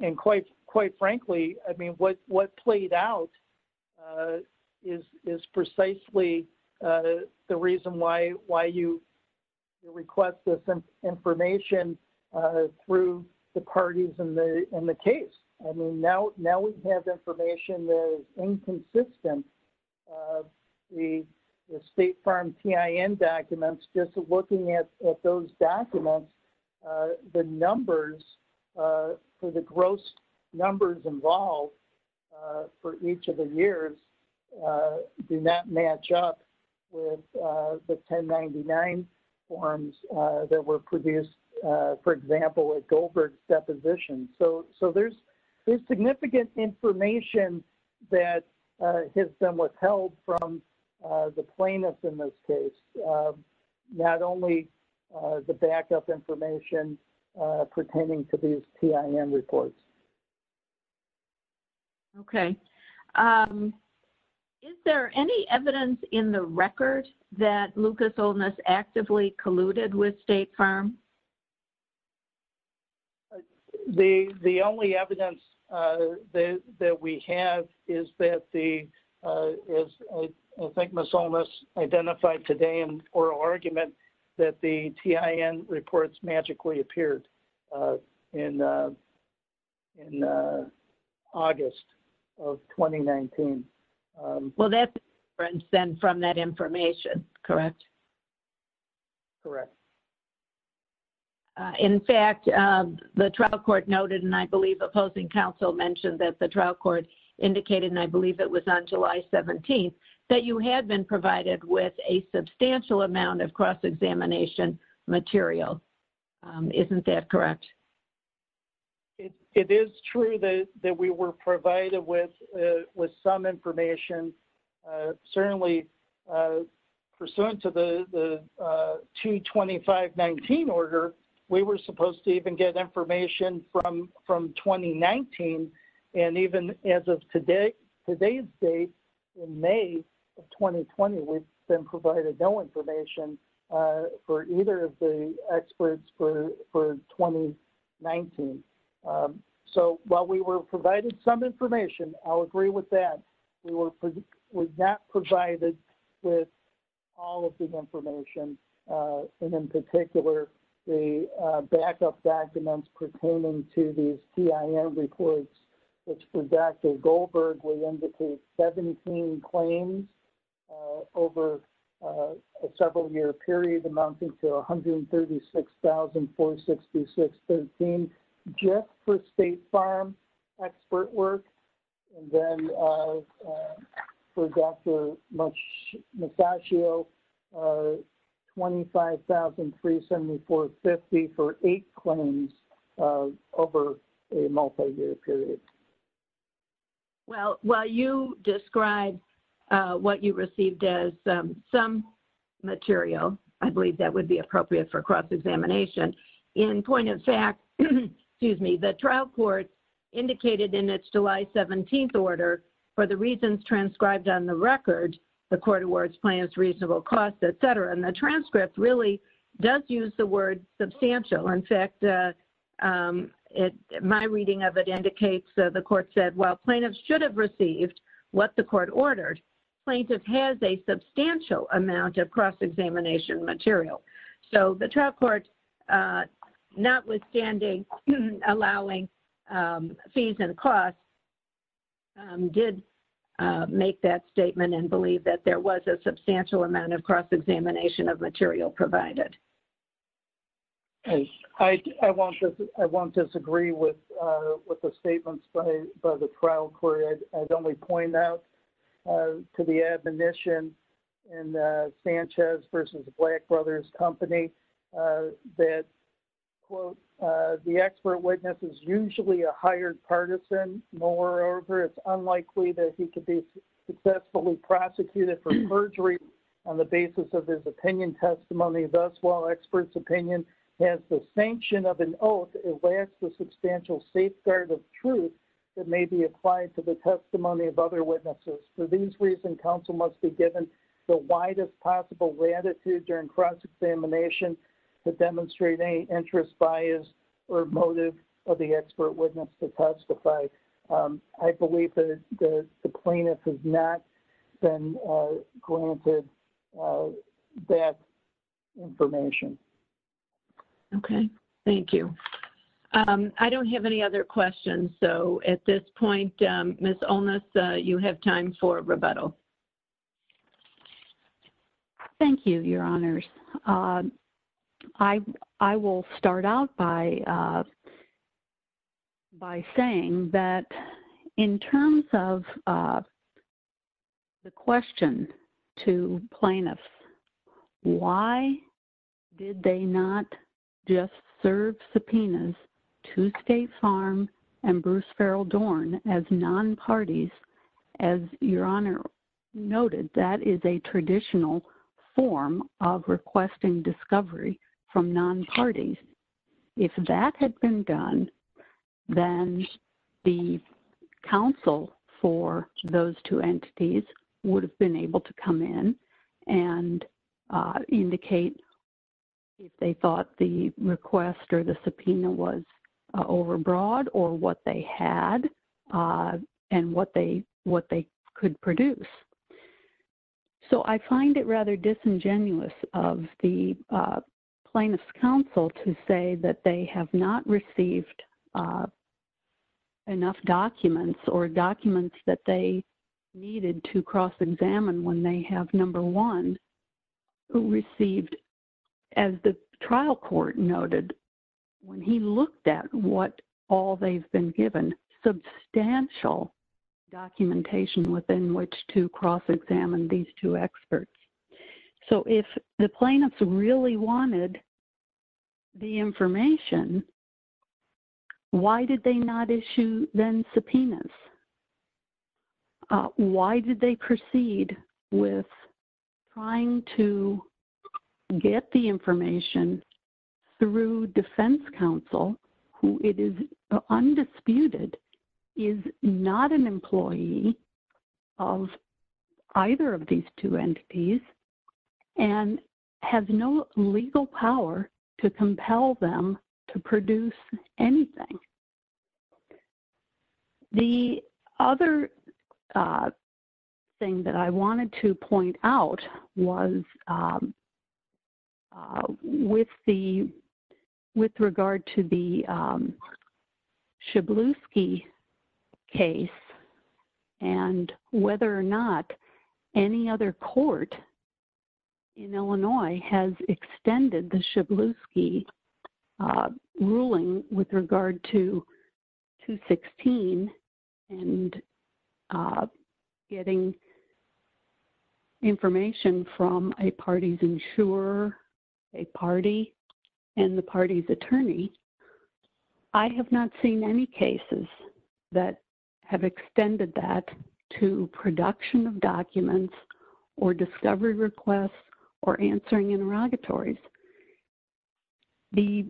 And quite frankly, I mean, what played out is precisely the reason why you request this information through the parties in the case. I mean, now we have information that is inconsistent. The State Farm PIN documents, just looking at those documents, the numbers, so the gross numbers involved for each of the years do not match up with the 1099 forms that were produced, for example, at Goldberg's deposition. So there's significant information that has been withheld from the plaintiffs in this case, not only the backup information pertaining to these PIN reports. Okay. Is there any evidence in the record that Lucas Olness actively colluded with State Farm? The only evidence that we have is that the, as I think Ms. Olness identified today in oral argument, that the TIN reports magically appeared in August of 2019. Well, that's from that information, correct? Correct. In fact, the trial court noted, and I believe opposing counsel mentioned that the trial court indicated, and I believe it was on July 17th, that you had been provided with a substantial amount of cross-examination material. Isn't that correct? It is true that we were provided with some information. Certainly pursuant to the 22519 order, we were supposed to even get information from 2019. And even as of today's date, in May of 2020, we've been provided no information for either of the experts for 2019. So while we were provided some information, I'll agree with that, we were not provided with all of the information. And in particular, the backup documents pertaining to these PIN reports, which for Dr. Goldberg, we indicate 17 claims over a several year period amounting to $136,466.13 just for State Farm expert work. And then for Dr. Musashio, $25,374.50 for eight claims over a multi-year period. Well, while you describe what you received as some material, I believe that would be appropriate for July 17th order for the reasons transcribed on the record, the court awards plans, reasonable costs, et cetera. And the transcript really does use the word substantial. In fact, my reading of it indicates the court said, well, plaintiffs should have received what the court ordered. Plaintiff has a substantial amount of cross-examination material. So the trial court, notwithstanding allowing fees and costs, did make that statement and believe that there was a substantial amount of cross-examination of material provided. I won't disagree with the statements by the trial court. I'd only point that to the admonition and Sanchez versus the Black Brothers Company that, quote, the expert witness is usually a hired partisan. Moreover, it's unlikely that he could be successfully prosecuted for perjury on the basis of his opinion testimony. Thus, while experts opinion has the sanction of an oath, it lacks the substantial safeguard of truth that may be applied to the testimony of other witnesses. For these reasons, counsel must be given the widest possible latitude during cross-examination to demonstrate any interest, bias, or motive of the expert witness to testify. I believe that the plaintiff has not been granted that information. MARY JO GIOVACCHINI Okay. Thank you. I don't have any other questions. So at this point, Ms. Onus, you have time for rebuttal. SHARON ONUS Thank you, Your Honors. I will start out by saying that in terms of the question to plaintiffs, why did they not just serve subpoenas to State Farm and Bruce Ferrell Dorn as non-parties? As Your Honor noted, that is a traditional form of requesting discovery from non-parties. If that had been done, then the counsel for those two entities would have been able to come in and indicate if they thought the request or the subpoena was overbroad or what they had and what they could produce. So I find it rather disingenuous of the plaintiff's counsel to say that they have not received enough documents or documents that they needed to cross-examine when they have, number one, received, as the trial court noted, when he looked at what all they've been given, substantial documentation within which to wanted the information. Why did they not issue then subpoenas? Why did they proceed with trying to get the information through defense counsel, who it is undisputed is not an employee of either of these two entities and have no legal power to compel them to produce anything? The other thing that I wanted to point out was with regard to the other court in Illinois has extended the Shklovsky ruling with regard to 216 and getting information from a party's insurer, a party, and the party's attorney. I have not seen any cases that have extended that to production of documents or discovery requests or answering interrogatories. The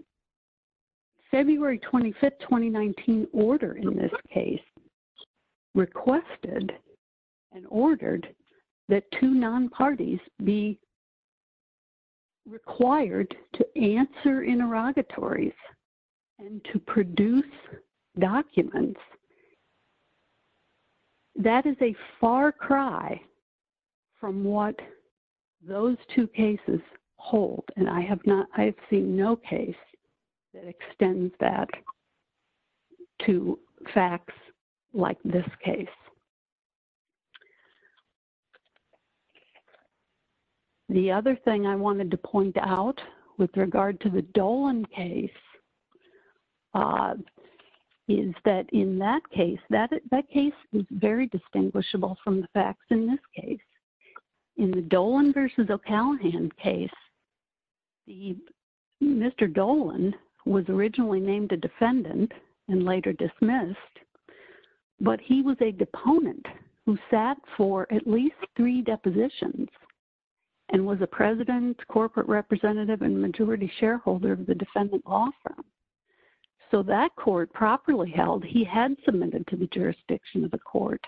February 25, 2019 order in this case requested and ordered that two non-parties be required to answer interrogatories and to produce documents. That is a far cry from what those two cases hold and I have not, I have seen no case that extends that to facts like this case. The other thing I wanted to point out with regard to the Dolan case is that in that case, that case is very distinguishable from the facts in this case. In the Dolan v. O'Callaghan case, Mr. Dolan was originally named a defendant and later dismissed, but he was a deponent who sat for at least three depositions and was a president, corporate representative, and majority shareholder of the defendant law firm. So that court properly held he had submitted to the jurisdiction of the court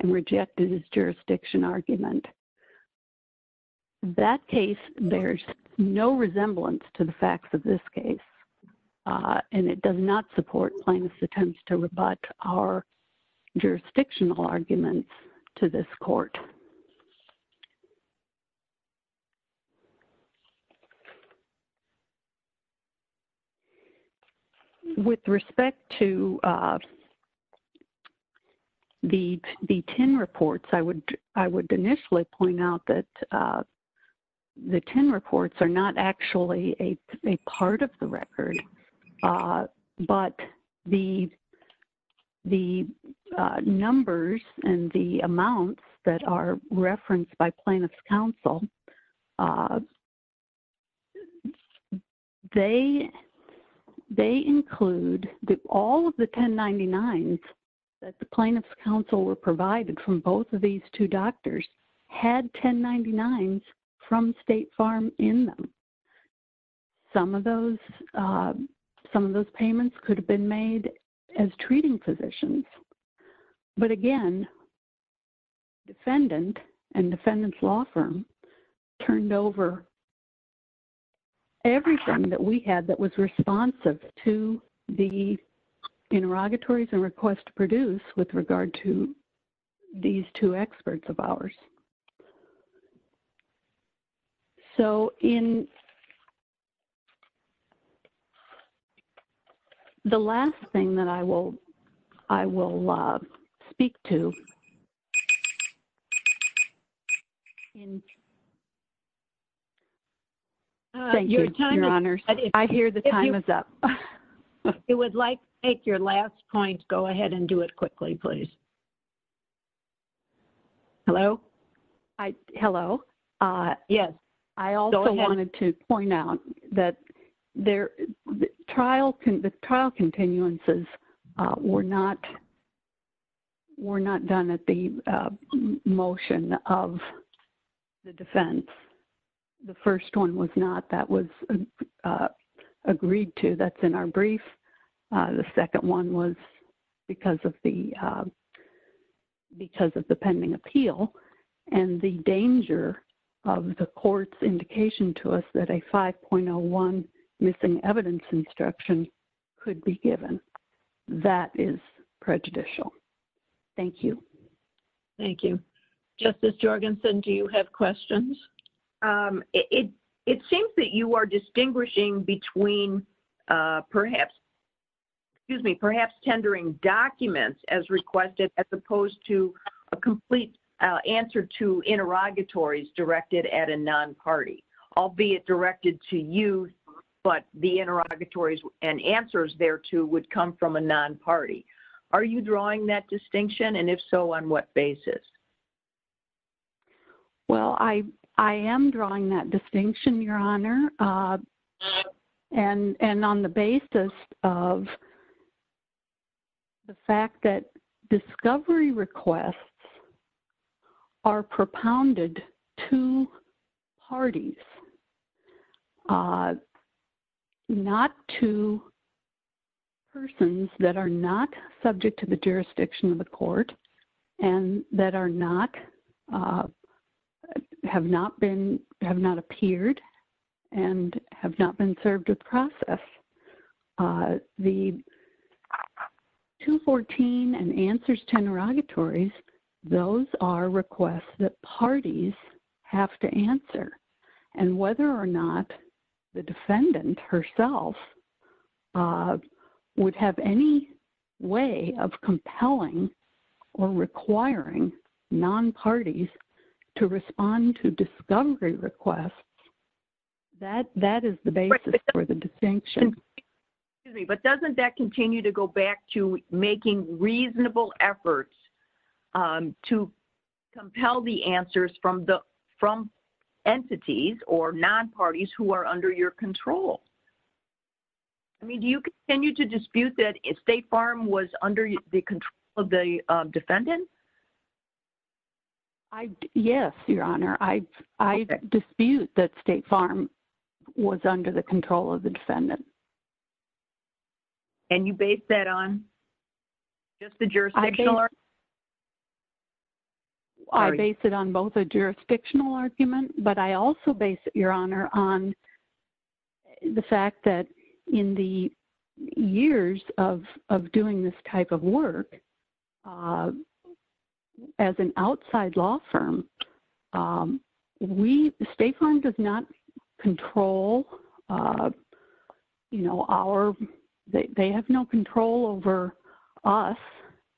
and rejected his jurisdiction argument. That case bears no resemblance to the facts of this case and it does not support plaintiff's attempts to rebut our jurisdictional arguments to this court. With respect to the 10 reports, I would initially point out that the 10 reports are not actually a part of the record, but the numbers and the amounts that are referenced by plaintiff's counsel, they include all of the 1099s that the plaintiff's counsel were provided from both of these two doctors had 1099s from State Farm in them. Some of those payments could have been made as treating physicians, but again, defendant and defendant's law firm turned over everything that we had that was responsive to the interrogatories and requests to produce with regard to these two experts of ours. So in the last thing that I will speak to... Thank you, Your Honor. I hear the time is up. If you would like to make your last point, go ahead and do it quickly, please. Hello? Hello. Yes. I also wanted to point out that the trial continuances were not done at the motion of the defense. The first one was not. That was agreed to. That's in our brief. The second one was because of the pending appeal and the danger of the court's indication to us that a 5.01 missing evidence instruction could be given. That is prejudicial. Thank you. Thank you. Justice Jorgensen, do you have questions? It seems that you are distinguishing between perhaps, excuse me, perhaps tendering documents as requested as opposed to a complete answer to interrogatories directed at a non-party, albeit directed to you, but the interrogatories and answers thereto would come from a non-party. Are you drawing that distinction? And if so, on what basis? Well, I am drawing that distinction, Your Honor, and on the basis of the fact that discovery requests are propounded to parties, not to persons that are not subject to the process and have not appeared and have not been served with process. The 214 and answers to interrogatories, those are requests that parties have to answer. And whether or not the defendant herself would have any way of compelling or requiring non-parties to respond to discovery requests, that is the basis for the distinction. But doesn't that continue to go back to making reasonable efforts to compel the answers from entities or non-parties who are under your control? I mean, do you continue to dispute that State Farm was under the control of the defendant? Yes, Your Honor. I dispute that State Farm was under the control of the defendant. And you base that on just the jurisdictional argument? I base it on both a jurisdictional argument, but I also base it, Your Honor, on the fact that in the years of doing this type of work, as an outside law firm, we, State Farm does not control, you know, our, they have no control over us.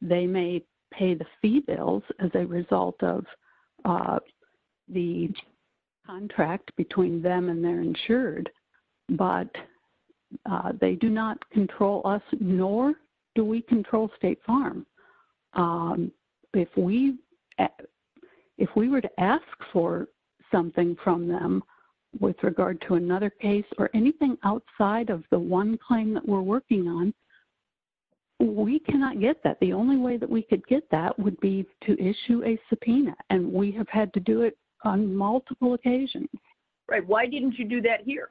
They may pay the fee bills as a result of the contract between them and their insured, but they do not control us, nor do we control State Farm. If we were to ask for something from them with regard to another case or anything outside of the one claim that we're working on, we cannot get that. The only way that we could get that would be to issue a subpoena, and we have had to do it on multiple occasions. Right. Why didn't you do that here?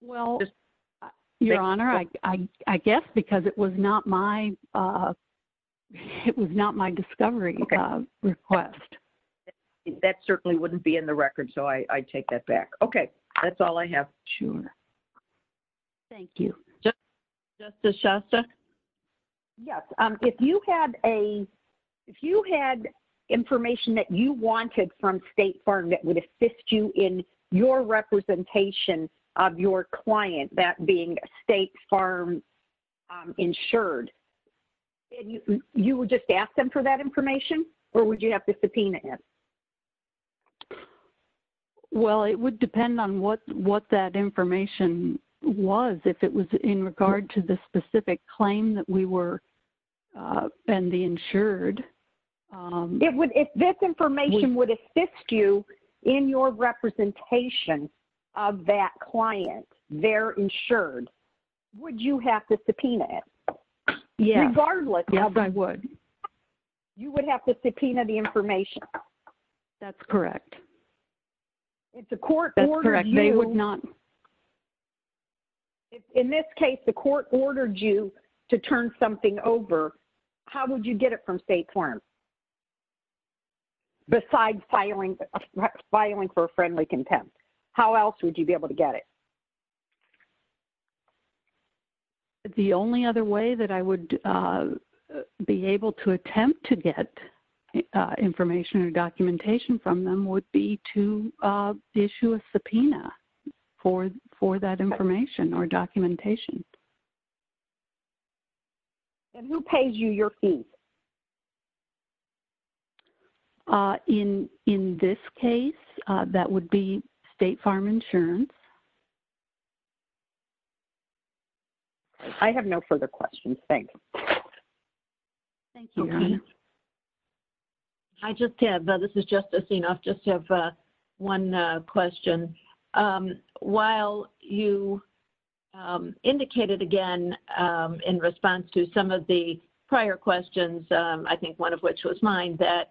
Well, Your Honor, I guess because it was not my, it was not my discovery request. That certainly wouldn't be in the record, so I take that back. Okay. That's all I have. Sure. Thank you. Justice Shostak? Yes. If you had a, if you had information that you wanted from State Farm that would assist you in your representation of your client, that being State Farm insured, you would just ask them for that information, or would you have to subpoena it? Well, it would depend on what that information was, if it was in regard to the specific claim that we were, and the insured. It would, if this information would assist you in your representation of that client, their insured, would you have to subpoena it? Yes. Regardless. Yes, I would. You would have to subpoena the information. That's correct. If the court ordered you... That's correct. They would not... In this case, the court ordered you to turn something over, how would you get it from State Farm, besides filing for a friendly contempt? How else would you be able to get it? The only other way that I would be able to attempt to get information or documentation from them would be to issue a subpoena for that information or documentation. And who pays you your fees? In this case, that would be State Farm Insurance. I have no further questions. Thank you. Thank you. I just have, this is just a thing, I just have one question. While you indicated, again, in response to some of the prior questions, I think one of which was mine, that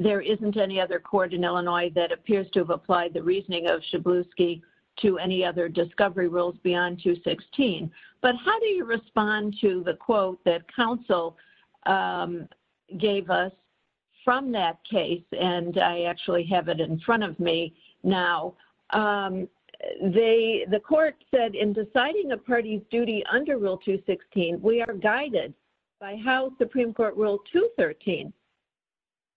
there isn't any other court in Illinois that appears to have applied the reasoning of Schabowski to any other discovery rules beyond 216. But how do you respond to the quote that counsel gave us from that case? And I actually have it in front of me now. So, the court said, in deciding a party's duty under Rule 216, we are guided by how Supreme Court Rule 213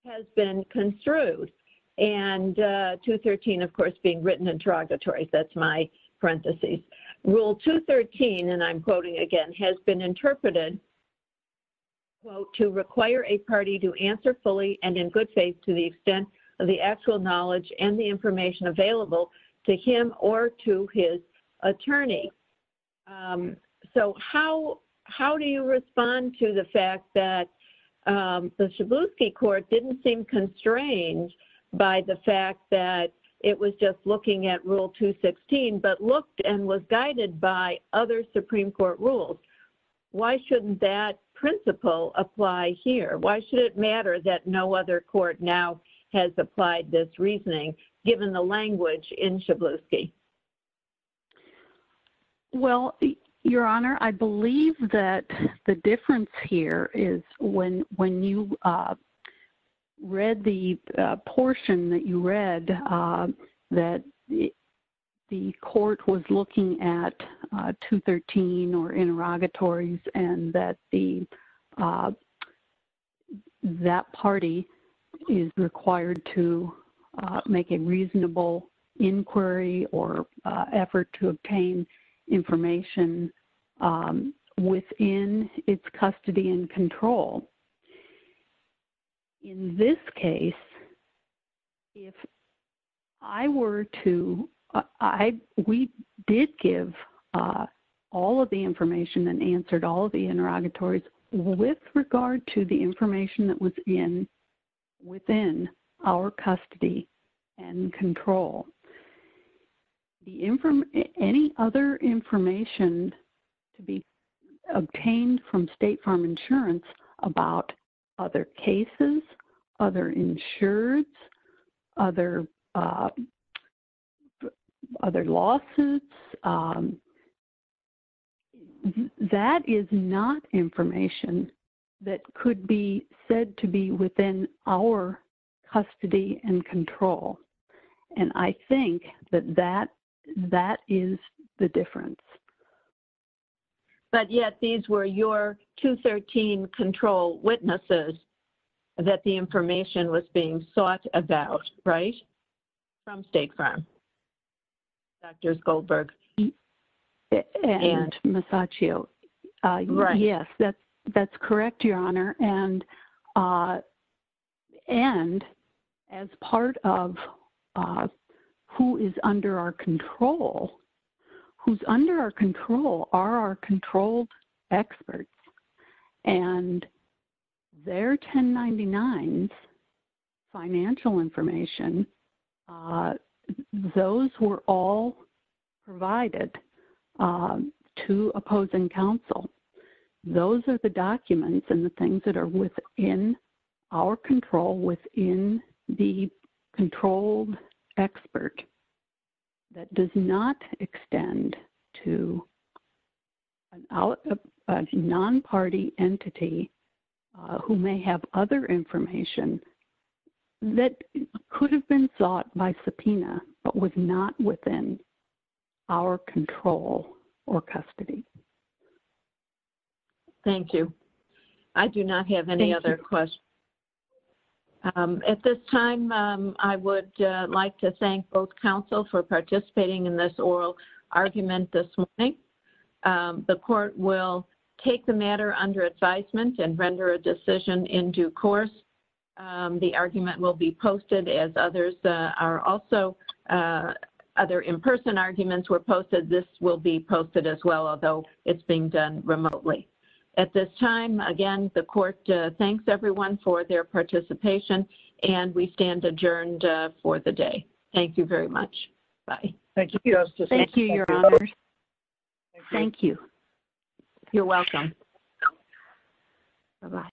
has been construed. And 213, of course, being written interrogatory, that's my parentheses. Rule 213, and I'm quoting again, has been interpreted, quote, to require a party to answer fully and in good faith to the extent of the actual knowledge and the information available to him or to his attorney. So, how do you respond to the fact that the Schabowski court didn't seem constrained by the fact that it was just looking at Rule 216, but looked and was guided by other Supreme Court rules? Why shouldn't that principle apply here? Why should it matter that no other court now has applied this reasoning, given the language in Schabowski? Well, Your Honor, I believe that the difference here is when you read the portion that you read, that the court was looking at 213 or interrogatories, and that the, that party is required to make a reasonable inquiry or effort to obtain information within its custody and control. In this case, if I were to, I, we did give all of the information and answered all of the interrogatories with regard to the information that was in, within our custody and control. The, any other information to be obtained from State Farm Insurance about other cases, other insurers, other, other lawsuits, that is not information that could be said to be within our custody and control. And I think that that, that is the difference. But yet, these were your 213 control witnesses that the information was being sought about, right? From State Farm. Doctors Goldberg and Masaccio. Yes, that's correct, Your Honor. And, and as part of who is under our control, who's under our control are our 1099's financial information. Those were all provided to opposing counsel. Those are the documents and the things that are within our control within the controlled expert that does not extend to a non-party entity who may have other information that could have been sought by subpoena but was not within our control or custody. Thank you. I do not have any other questions. At this time, I would like to thank both counsel for participating in this oral argument this morning. The court will take the matter under advisement and render a decision in due course. The argument will be posted as others are also, other in-person arguments were posted. This will be posted as well, although it's being done remotely. At this time, again, the court thanks everyone for their participation and we stand adjourned for the day. Thank you very much. Bye. Thank you. Thank you, Your Honor. Thank you. You're welcome. Bye-bye.